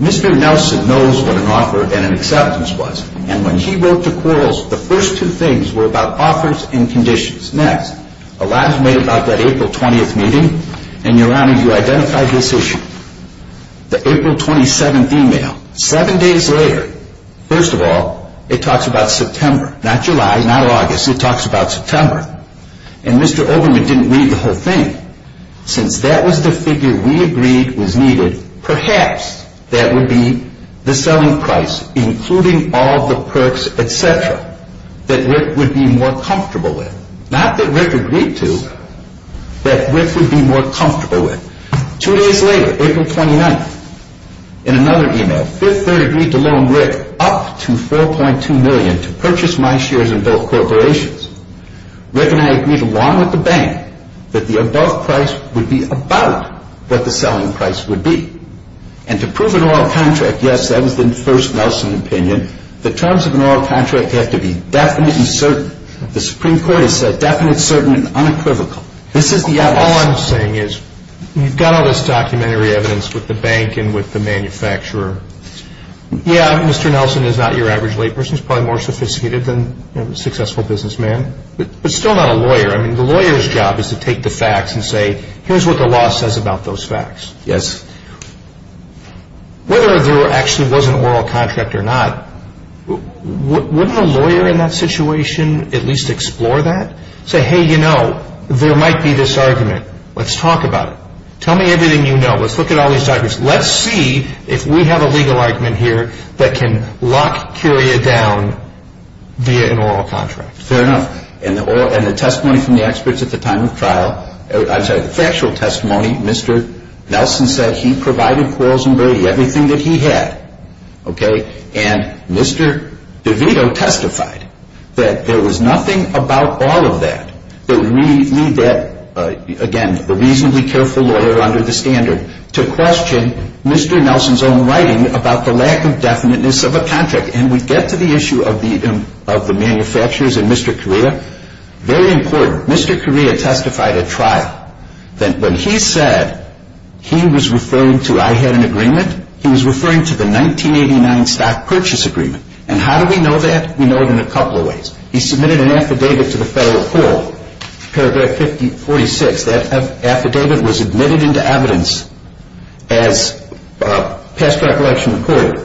Mr. Nelson knows what an offer and an acceptance was. And when he wrote to Quarles, the first two things were about offers and conditions. Next, a lot is made about that April 20th meeting. And, Your Honor, you identified this issue. The April 27th email. Seven days later, first of all, it talks about September. Not July, not August. It talks about September. And Mr. Oberman didn't read the whole thing. Since that was the figure we agreed was needed, perhaps that would be the selling price, including all the perks, et cetera, that Rick would be more comfortable with. Not that Rick agreed to, but Rick would be more comfortable with. Two days later, April 29th. In another email, And to prove an oral contract, yes, that was the first Nelson opinion. The terms of an oral contract have to be definite and certain. The Supreme Court has said definite, certain, and unequivocal. All I'm saying is, you've got all this documentary evidence with the bank and with the manufacturer. Yeah, Mr. Nelson is not your average layperson. He's probably more sophisticated than a successful businessman. But still not a lawyer. I mean, the lawyer's job is to take the facts and say, here's what the law says about those facts. Yes. Whether or not there actually was an oral contract or not, wouldn't a lawyer in that situation at least explore that? Say, hey, you know, there might be this argument. Let's talk about it. Tell me everything you know. Let's look at all these arguments. Let's see if we have a legal argument here that can lock Curia down via an oral contract. Fair enough. And the testimony from the experts at the time of the trial, I'm sorry, the factual testimony, Mr. Nelson said he provided quarrels and debris, everything that he had. Okay? And Mr. DeVito testified that there was nothing about all of that that would lead that, again, reasonably careful lawyer under the standard to question Mr. Nelson's own writing about the lack of definiteness of a contract. And we get to the issue of the manufacturers and Mr. Curia. Very important. Mr. Curia testified at trial that when he said he was referring to I had an agreement, he was referring to the 1989 stock purchase agreement. And how do we know that? We know it in a couple of ways. He submitted an affidavit to the Federal Court, paragraph 46. That affidavit was admitted into evidence as past recollection reported.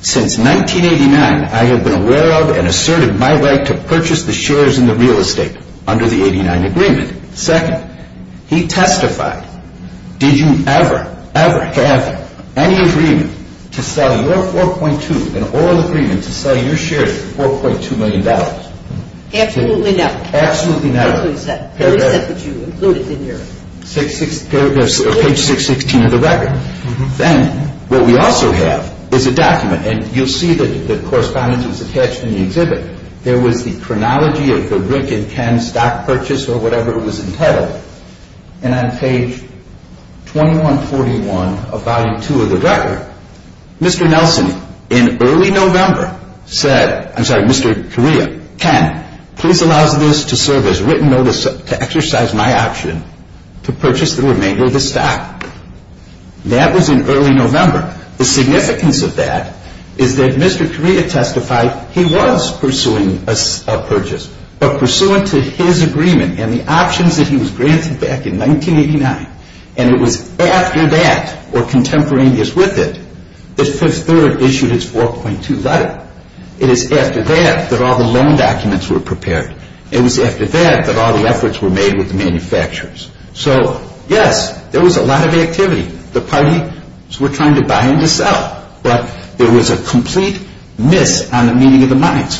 Since 1989, I have been aware of and asserted my right to purchase the shares in the real estate under the 89 agreement. Second, he testified. Did you ever, ever have any agreement to sell your 4.2 and all the agreements to sell your shares for $4.2 million? Absolutely not. Absolutely not. I don't think so. I don't think that was you included in your. Page 616 of the record. Then what we also have is a document. And you'll see that the correspondence is attached in the exhibit. There was the chronology of the Rick and Ken stock purchase or whatever it was entitled. And on page 2141 of volume 2 of the record, Mr. Nelson in early November said, I'm sorry, Mr. Curia, 10, please allow this to serve as written notice to exercise my option to purchase the remainder of the stock. That was in early November. The significance of that is that Mr. Curia testified he was pursuing a purchase. But pursuant to his agreement and the option that he was granted back in 1989, and it was after that or contemporaneous with it, Mr. Curia issued his 4.2 letter. It was after that that all the loan documents were prepared. It was after that that all the efforts were made with the manufacturers. So, yes, there was a lot of activity. The parties were kind of buying this out. But there was a complete myth on the meaning of the monies.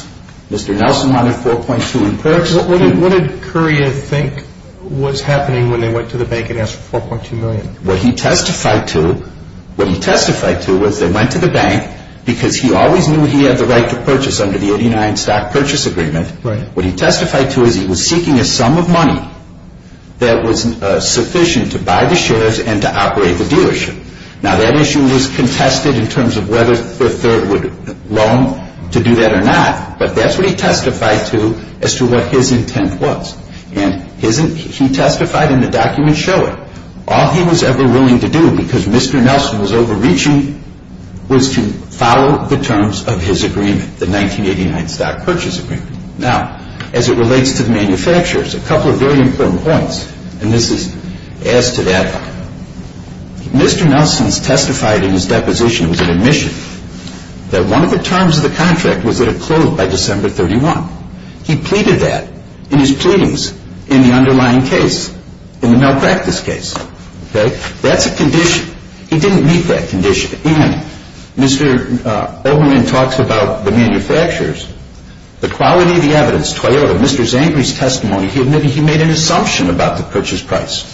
Mr. Nelson wanted 4.2 in first. What did Curia think was happening when they went to the bank and asked for 4.2 million? What he testified to was they went to the bank because he always knew he had the right to purchase under the 89 Stock Purchase Agreement. What he testified to is he was seeking a sum of money that was sufficient to buy the shares and to operate the dealership. Now, that issue was contested in terms of whether the third would loan to do that or not. But that's what he testified to as to what his intent was. And he testified in the document showing. All he was ever willing to do, because Mr. Nelson was overreaching, was to follow the terms of his agreement, the 1989 Stock Purchase Agreement. Now, as it relates to the manufacturers, a couple of very important points, and this is as to that. Mr. Nelson testified in his deposition as an admission that one of the terms of the contract was that it closed by December 31. He pleaded that in his pleadings in the underlying case, in the malpractice case. That's a condition. He didn't meet that condition. And Mr. Olbermann talks about the manufacturers. The quality of the evidence, Mr. Zangri's testimony, he admitted he made an assumption about the purchase price.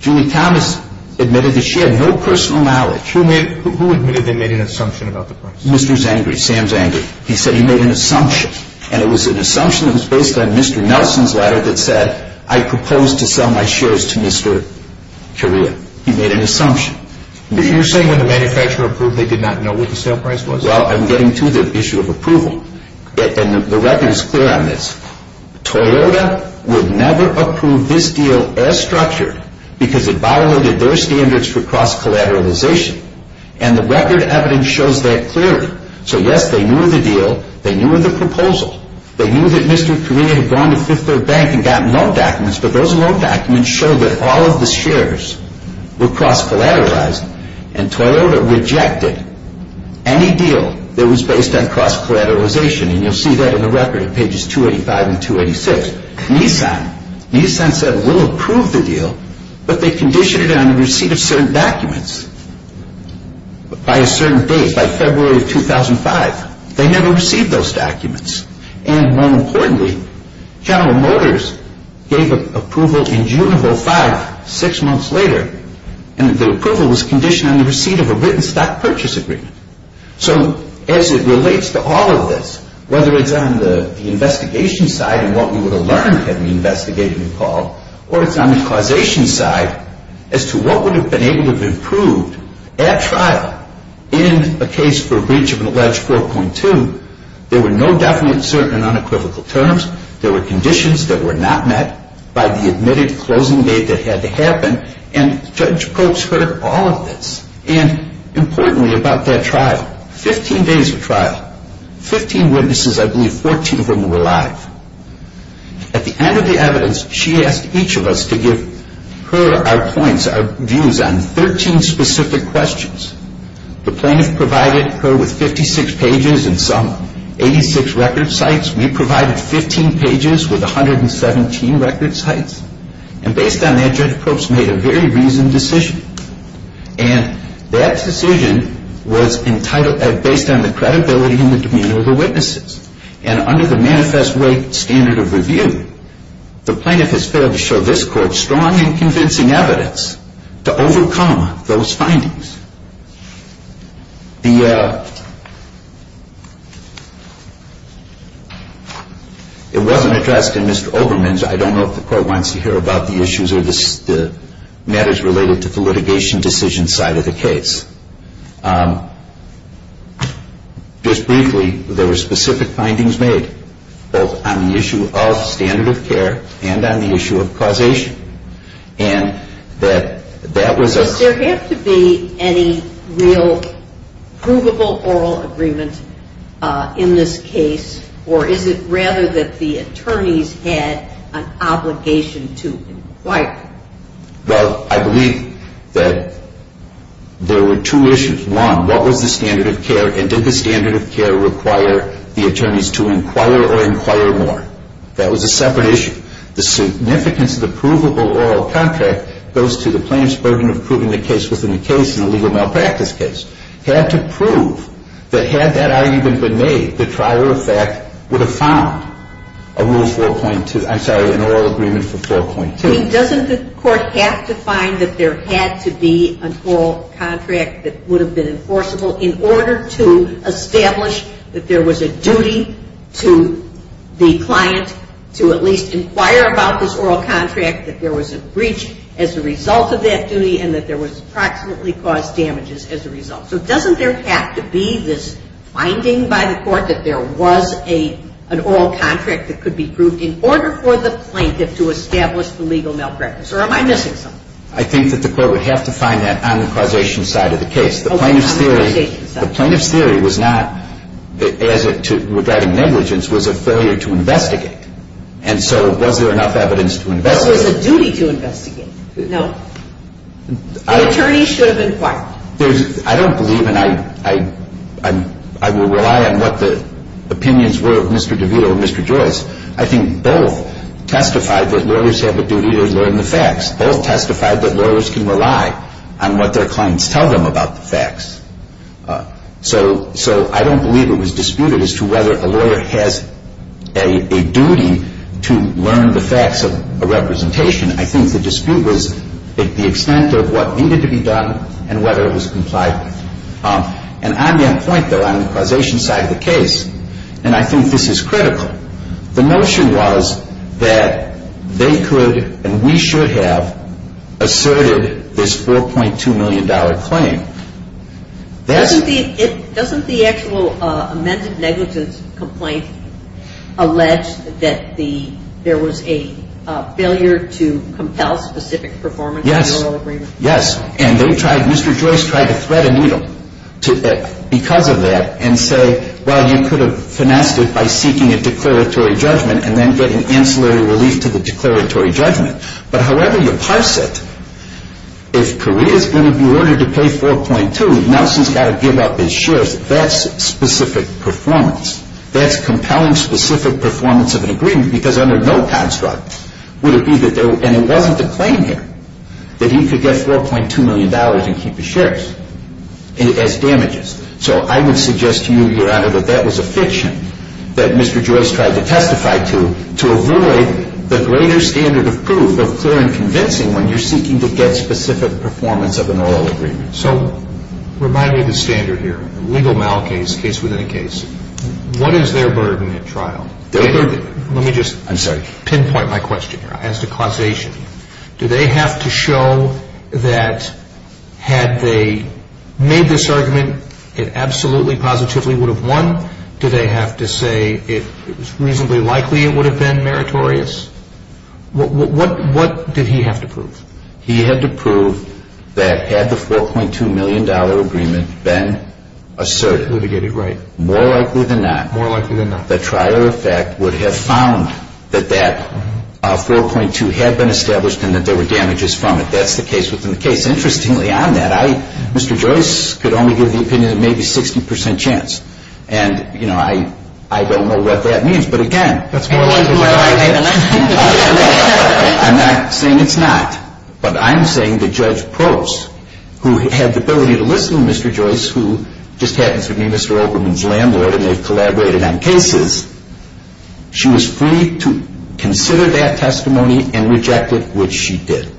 Julie Thomas admitted that she had no personal knowledge. Who admitted they made an assumption about the price? Mr. Zangri, Sam Zangri, he said he made an assumption. And it was an assumption that was based on Mr. Nelson's letter that said, I propose to sell my shares to Mr. Correa. He made an assumption. But you're saying when the manufacturer approved, they did not know what the sale price was? Well, I'm getting to the issue of approval. And the record is clear on this. Toyota would never approve this deal as structured because it violated their standards for cross-collateralization. And the record evidence shows that clearly. So, yes, they knew of the deal. They knew of the proposal. They knew that Mr. Correa had gone to Fifth Third Bank and gotten loan documents. But those loan documents show that all of the shares were cross-collateralized. And Toyota rejected any deal that was based on cross-collateralization. And you'll see that in the record at pages 285 and 286. Meantime, Nissan said we'll approve the deal. But they conditioned it on the receipt of certain documents by a certain date. That's February of 2005. They never received those documents. And, more importantly, General Motors gave approval in June of 2005, six months later. And the approval was conditioned on the receipt of a written stock purchase agreement. So, as it relates to all of this, whether it's on the investigation side and what we were alarmed at the investigation involved, or if it's on the causation side, as to what would have been able to improve that trial in a case for breach of an alleged 4.2, there were no documents certain in unequivocal terms. There were conditions that were not met by the admitted closing date that had to happen. And Judge Coates heard all of this. And, importantly, about that trial, 15 days of trial, 15 witnesses, I believe 14 of them were alive. At the end of the evidence, she asked each of us to give her our points, our views on 13 specific questions. The plaintiff provided her with 56 pages and some 86 record sites. We provided 15 pages with 117 record sites. And based on that, Judge Coates made a very reasoned decision. And that decision was entitled as based on the credibility and the demeanor of the witnesses. And under the manifest way standard of review, the plaintiff has failed to show this court strong and convincing evidence to overcome those findings. It wasn't addressed in Mr. Olbermann's. I don't know if the court wants to hear about the issues or the matters related to the litigation decision side of the case. Just briefly, there were specific findings made, both on the issue of standard of care and on the issue of causation. And that was a... There has to be any real provable oral agreement in this case, or is it rather that the attorneys had an obligation to... Well, I believe that there were two issues. One, what was the standard of care and did the standard of care require the attorneys to inquire or inquire more? That was a separate issue. The significance of the provable oral contract goes to the plaintiff's burden of proving the case within the case in a legal malpractice case. Had to prove that had that argument been made, the trial of fact would have found a rule 4.2, I'm sorry, an oral agreement for 4.2. So the attorney doesn't, of course, have to find that there had to be an oral contract that would have been enforceable in order to establish that there was a duty to the client to at least inquire about this oral contract, that there was a breach as a result of that duty, and that there was approximately caused damages as a result. So doesn't there have to be this finding by the court that there was an oral contract that could be proved in order for the plaintiff to establish the legal malpractice? Or am I missing something? I think that the court would have to find that on the causation side of the case. The plaintiff's theory was not regarding negligence. It was a failure to investigate. And so was there enough evidence to investigate? It was a duty to investigate. No. The attorney should have inquired. I don't believe, and I will rely on what the opinions were of Mr. DeVito and Mr. Joyce. I think both testified that lawyers have a duty to learn the facts. Both testified that lawyers can rely on what their clients tell them about the facts. So I don't believe it was disputed as to whether a lawyer has a duty to learn the facts of a representation. I think the dispute was the extent of what needed to be done and whether it was compliant. And I'm the appointee on the causation side of the case, and I think this is critical. The notion was that they could and we should have asserted this $4.2 million claim. Doesn't the actual amended negligence complaint allege that there was a failure to compel specific performance? Yes. Yes, and Mr. Joyce tried to thread a needle because of that and say, well, you could have financed it by seeking a declaratory judgment and then getting ancillary relief to the declaratory judgment. But however you parse it, if Korea is going to be ordered to pay $4.2, Nelson's got to give up his shirt. That's specific performance. That's compelling specific performance of an agreement because under no construct would it be that there was And it wasn't the claim here that he could get $4.2 million and keep his shirt. And it has damages. So I would suggest to you, Your Honor, that that was a fiction that Mr. Joyce tried to testify to to avoid the greater standard of proof of clear and convincing when you're seeking to get specific performance of an oral agreement. So remind me of the standard here, legal mal case, case within a case. What is their burden at trial? Let me just pinpoint my question here as to causation. Do they have to show that had they made this argument, it absolutely positively would have won? Do they have to say it was reasonably likely it would have been meritorious? What did he have to prove? He had to prove that had the $4.2 million agreement been asserted, more likely than not, the trial effect would have found that that $4.2 million had been established and that there were damages from it. That's the case within the case. Interestingly on that, Mr. Joyce could only give the opinion of maybe 60% chance. And I don't know what that means. But again, I'm not saying it's not. But I'm saying the judge prose, who had the ability to listen to Mr. Joyce, who just happened to be Mr. Oakerman's landlord and they collaborated on cases, she was free to consider that testimony and reject it, which she did.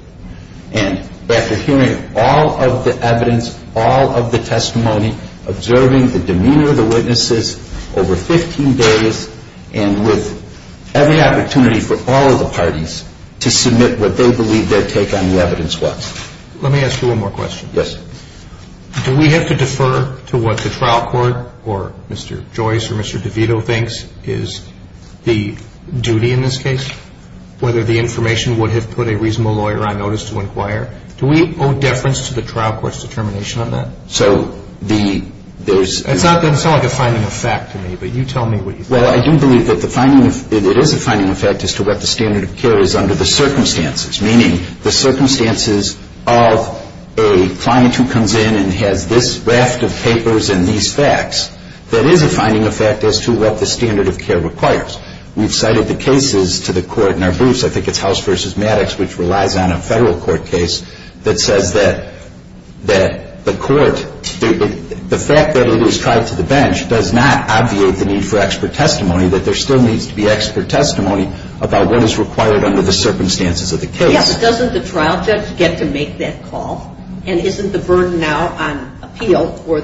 And after hearing all of the evidence, all of the testimony, observing the demeanor of the witnesses over 15 days and with every opportunity for all the parties to submit what they believe their take on the evidence was. Let me ask you one more question. Yes. Do we have to defer to what the trial court or Mr. Joyce or Mr. DeVito thinks is the duty in this case, whether the information would have put a reasonable lawyer on notice to inquire? Do we owe deference to the trial court's determination on that? So the... It's not a defining effect to me, but you tell me what you think. Well, I do believe that it is a defining effect as to what the standard of care is under the circumstances, meaning the circumstances of a client who comes in and has this raft of papers and these facts. That is a defining effect as to what the standard of care requires. We've cited the cases to the court in our booths. I think it's House v. Maddox, which relies on a federal court case, that says that the court... The fact that it was tied to the bench does not obviate the need for expert testimony, that there still needs to be expert testimony about what is required under the circumstances of the case. Yes, but doesn't the trial judge get to make that call? And isn't the burden now on appeal for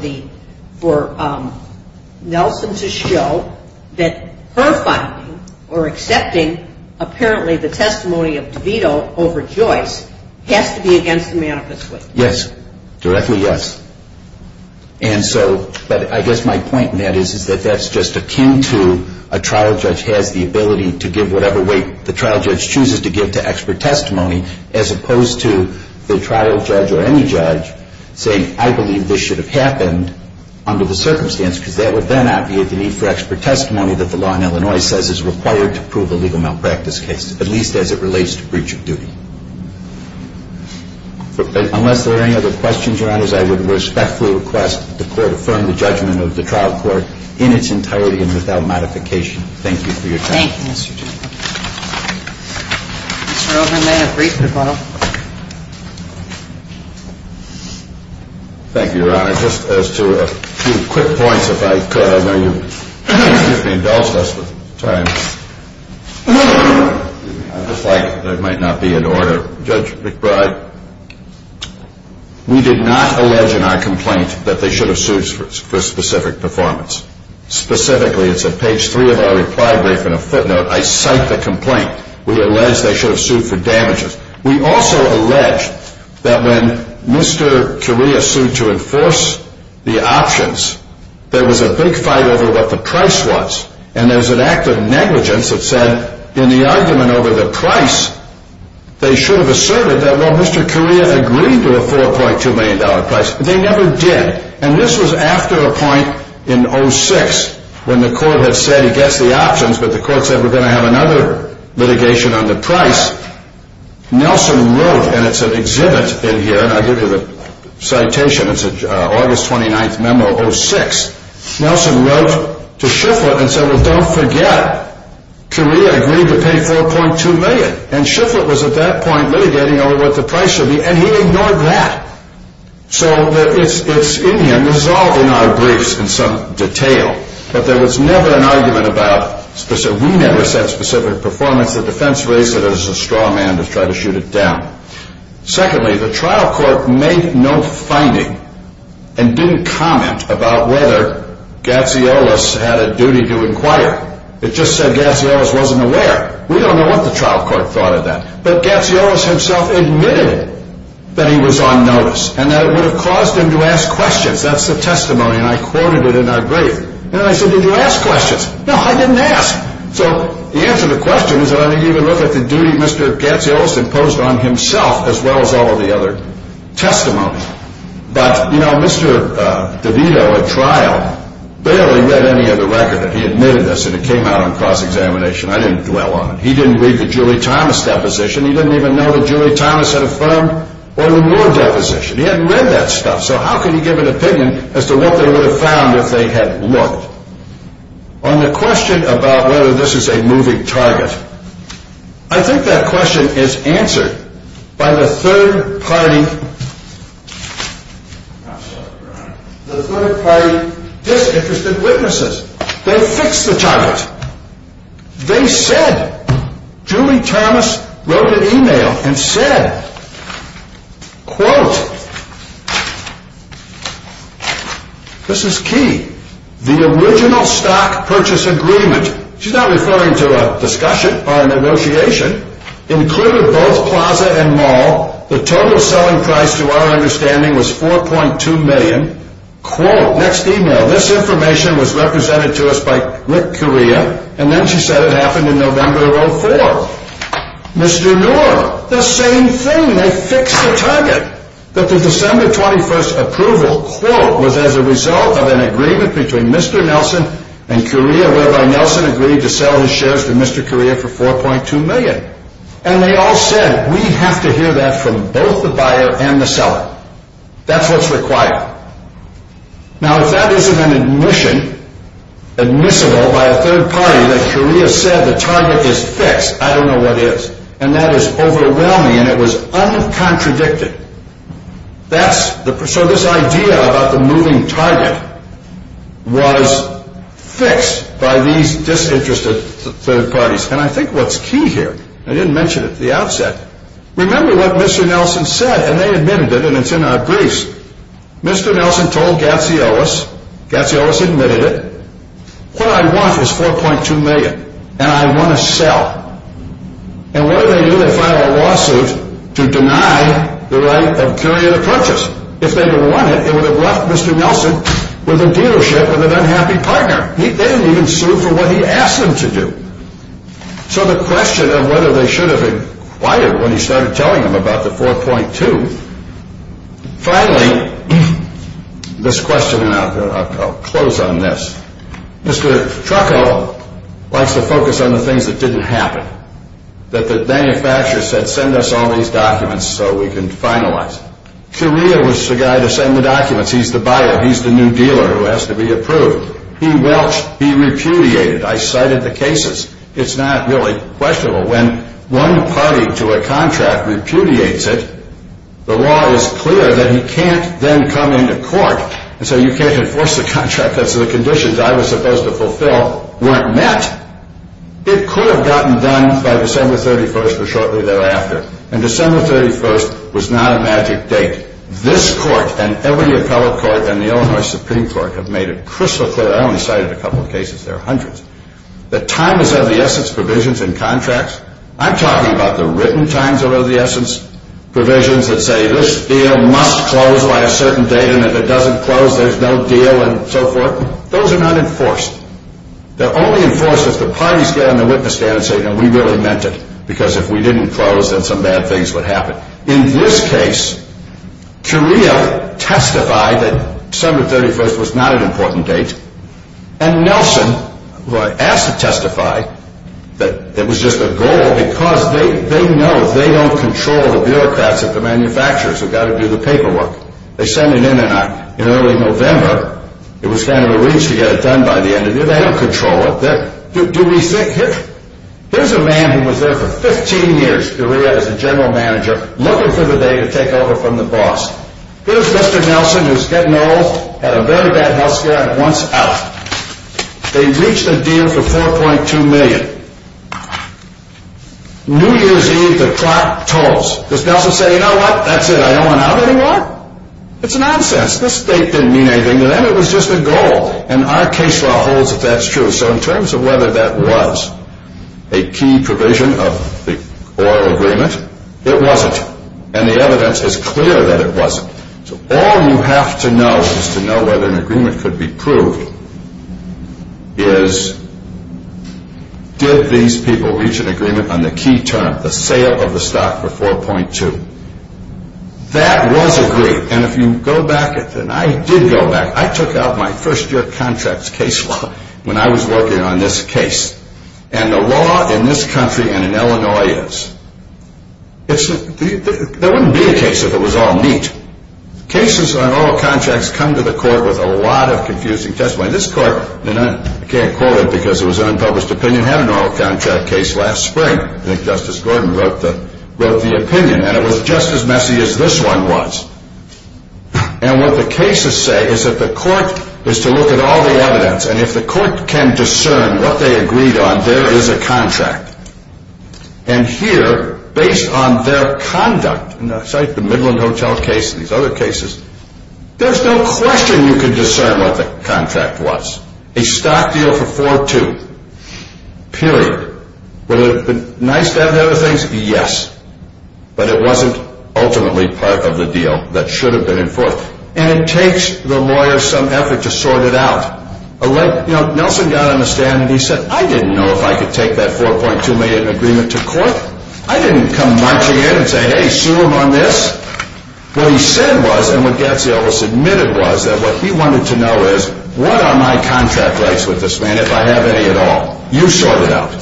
Nelson to show that her finding or accepting apparently the testimony of DeVito over Joyce has to be against the manifesto? Yes, directly yes. And so, but I guess my point in that is that that's just a cue to a trial judge has the ability to give whatever weight the trial judge chooses to give to expert testimony, as opposed to the trial judge or any judge saying, I believe this should have happened under the circumstance, because that would then obviate the need for expert testimony that the law in Illinois says is required to prove a legal malpractice case, at least as it relates to breach of duty. Unless there are any other questions, Your Honor, I would respectfully request that the court affirm the judgment of the trial court in its entirety and without modification. Thank you for your time. Thank you, Mr. Chairman. Thank you, Your Honor. Just as to a few quick points, if I could, I know you're ringing bells with time. I just like that it might not be in order. Judge McBride, we did not allege in our complaint that they should have sued for specific performance. Specifically, it's at page three of our reply brief, in a footnote, I cite the complaint. We allege they should have sued for damages. We also allege that when Mr. Carrillo sued to enforce the options, there was a big fight over what the price was, and there was an act of negligence that said, in the argument over the price, they should have asserted that, well, Mr. Carrillo agreed to the $4.2 million price, but they never did. And this was after a point in 06, when the court had said, get the options, but the court said we're going to have another litigation on the price. Nelson wrote, and it's an exhibit in here, and I give you the citation, it's an August 29th memo, 06. Nelson wrote to Shifflett and said, well, don't forget, Carrillo agreed to pay $4.2 million, and Shifflett was at that point litigating over what the price should be, and he ignored that. So it's in here, and it's all in our briefs in some detail, that there was never an argument about, we never said specific performance, the defense raised it as a straw man to try to shoot it down. Secondly, the trial court made no finding and didn't comment about whether Gatziolas had a duty to inquire. It just said Gatziolas wasn't aware. We don't know what the trial court thought of that. But Gatziolas himself admitted that he was on notice and that it would have caused him to ask questions. That's the testimony, and I quoted it in our brief. And I said, did you ask questions? No, I didn't ask. So the answer to the question is, I don't even look at the duty Mr. Gatziolas imposed on himself as well as all of the other testimony. But, you know, Mr. DeVito at trial barely read any of the record that he admitted to us and it came out on cross-examination. I didn't dwell on it. He didn't read the Julie Thomas deposition. He didn't even know that Julie Thomas had a firm or reward deposition. He hadn't read that stuff, so how could he give an opinion as to what they would have found if they had looked? On the question about whether this is a moving target, I think that question is answered by the third-party the third-party disinterested witnesses. They were hypnotized. They said, Julie Thomas wrote an email and said, quote, quote, this is key, the original stock purchase agreement, she's not referring to a discussion or a negotiation, included both Plaza and Mall. The total selling price to our understanding was $4.2 million. Quote, next email, this information was represented to us by Rick Curia and then she said it happened in November of 2004. Mr. Newell, the same thing, they fixed the target. That the December 21st approval, quote, was as a result of an agreement between Mr. Nelson and Curia whereby Nelson agreed to sell his shares to Mr. Curia for $4.2 million. And they all said, we have to hear that from both the buyer and the seller. That's what's required. Now, if that isn't an admission, admissible by a third-party, that Curia said the target is fixed, I don't know what is. And that is overwhelming and it was uncontradicted. That's, so this idea about the moving target was fixed by these disinterested third-parties. And I think what's key here, I didn't mention it at the outset, remember what Mr. Nelson said, and they admitted it and it's in our briefs. Mr. Nelson told Gatzielis, Gatzielis admitted it, what I want is $4.2 million, and I want to sell. And what do they do to file a lawsuit to deny the right of Curia to purchase? If they could have won it, it would have left Mr. Nelson with a dealership and an unhappy partner. They didn't even sue for what he asked them to do. So the question of whether they should have inquired when he started telling them about the $4.2 million, finally, this question, and I'll close on this. Mr. Truckell likes to focus on the things that didn't happen. That the manufacturer said, send us all these documents so we can finalize. Curia was the guy to send the documents. He's the buyer. He's the new dealer who has to be approved. He welched. He repudiated. I cited the cases. It's not really questionable. When one party to a contract repudiates it, the law is clear that he can't then come into court and say you can't enforce the contract because the conditions I was supposed to fulfill weren't met. It could have gotten done by December 31st or shortly thereafter. And December 31st was not a magic date. This court, and every appellate court, and the Illinois Supreme Court have made it crystal clear. I only cited a couple of cases. There are hundreds. The time is of the essence provisions in contracts. I'm talking about the written time is of the essence provisions that say this deal must close by a certain date, and if it doesn't close, there's no deal, and so forth. Those are not enforced. They're only enforced if the parties stand and the witnesses stand and say, you know, we really meant it. Because if we didn't close, then some bad things would happen. In this case, Curia testified that December 31st was not an important date. And Nelson was asked to testify that it was just a goal because they know they don't control the bureaucrats at the manufacturers. They've got to do the paperwork. They sent it in in early November. It was kind of a reach to get it done by the end of the year. They don't control it. Do we think? Here's a man who was there for 15 years, Curia, as a general manager, looking for the day to take over from the boss. Here's Mr. Nelson, who was head and arrows, had a very bad health crack once out. They reached a deal for $4.2 million. New Year's Eve, the clock tolls. Does Nelson say, you know what, that's it, I don't want to have any more? It's nonsense. This date didn't mean anything to them. It was just a goal. And our case law holds that that's true. So in terms of whether that was a key provision of the oil agreement, it wasn't. And the evidence is clear that it wasn't. So all you have to know, just to know whether an agreement could be proved, is did these people reach an agreement on the key term, the sale of the stock for $4.2? That was agreed. And if you go back, and I did go back, I took out my first year of contracts case law when I was working on this case. And the law in this country and in Illinois is, there wouldn't be a case if it was all neat. Cases on oil contracts come to the court with a lot of confusing testimony. This court, and I can't quote it because it was an unpublished opinion, had an oil contract case last spring that Justice Gordon wrote the opinion, and it was just as messy as this one was. And what the cases say is that the court is to look at all the evidence, and if the court can discern what they agreed on, there is a contract. And here, based on their conduct, and I cite the Midland Hotel case and these other cases, there's no question you can discern what the contract was. A stock deal for $4.2, period. Would it have been nice to have other things? Yes. But it wasn't ultimately part of the deal that should have been enforced. And it takes the lawyers some effort to sort it out. Nelson got on the stand and he said, I didn't know if I could take that $4.2 million in agreement to court. I didn't come marching in and say, hey, sue him on this. What he said was, and what Gadsdell has admitted was, that what he wanted to know is, what are my contract rights with this land if I have any at all? You sort it out.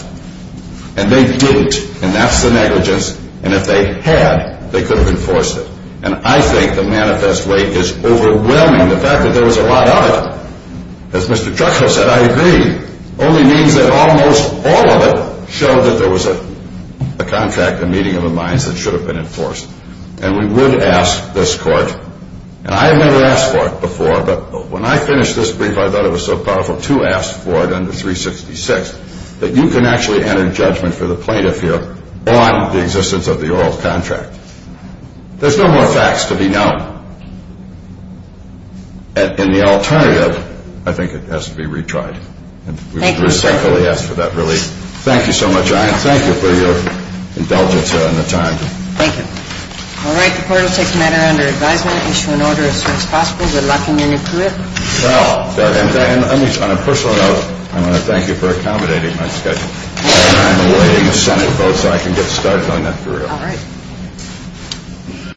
And they didn't, and that's the negligence. And if they had, they could have enforced it. And I think the manifest way is overwhelming, the fact that there was a lie on it. As Mr. Gadsdell said, I agree. Only meaning that almost all of it showed that there was a contract, a meeting of the minds that should have been enforced. And we would ask this court, and I've never asked for it before, but when I finished this brief, I thought it was so powerful to ask for it under 366, that you can actually enter judgment for the plaintiff here on the existence of the oral contract. There's no more facts to be known. And the alternative, I think it has to be retried. And we respectfully ask for that relief. Thank you so much, Anne. Thank you for your indulgence here on the time. Thank you. All right, the court will take the matter under advisement, issue an order as soon as possible to allow communion to it. Now, on a personal note, I want to thank you for accommodating my schedule. I'm waiting for the sun to go so I can get started on that period. All right.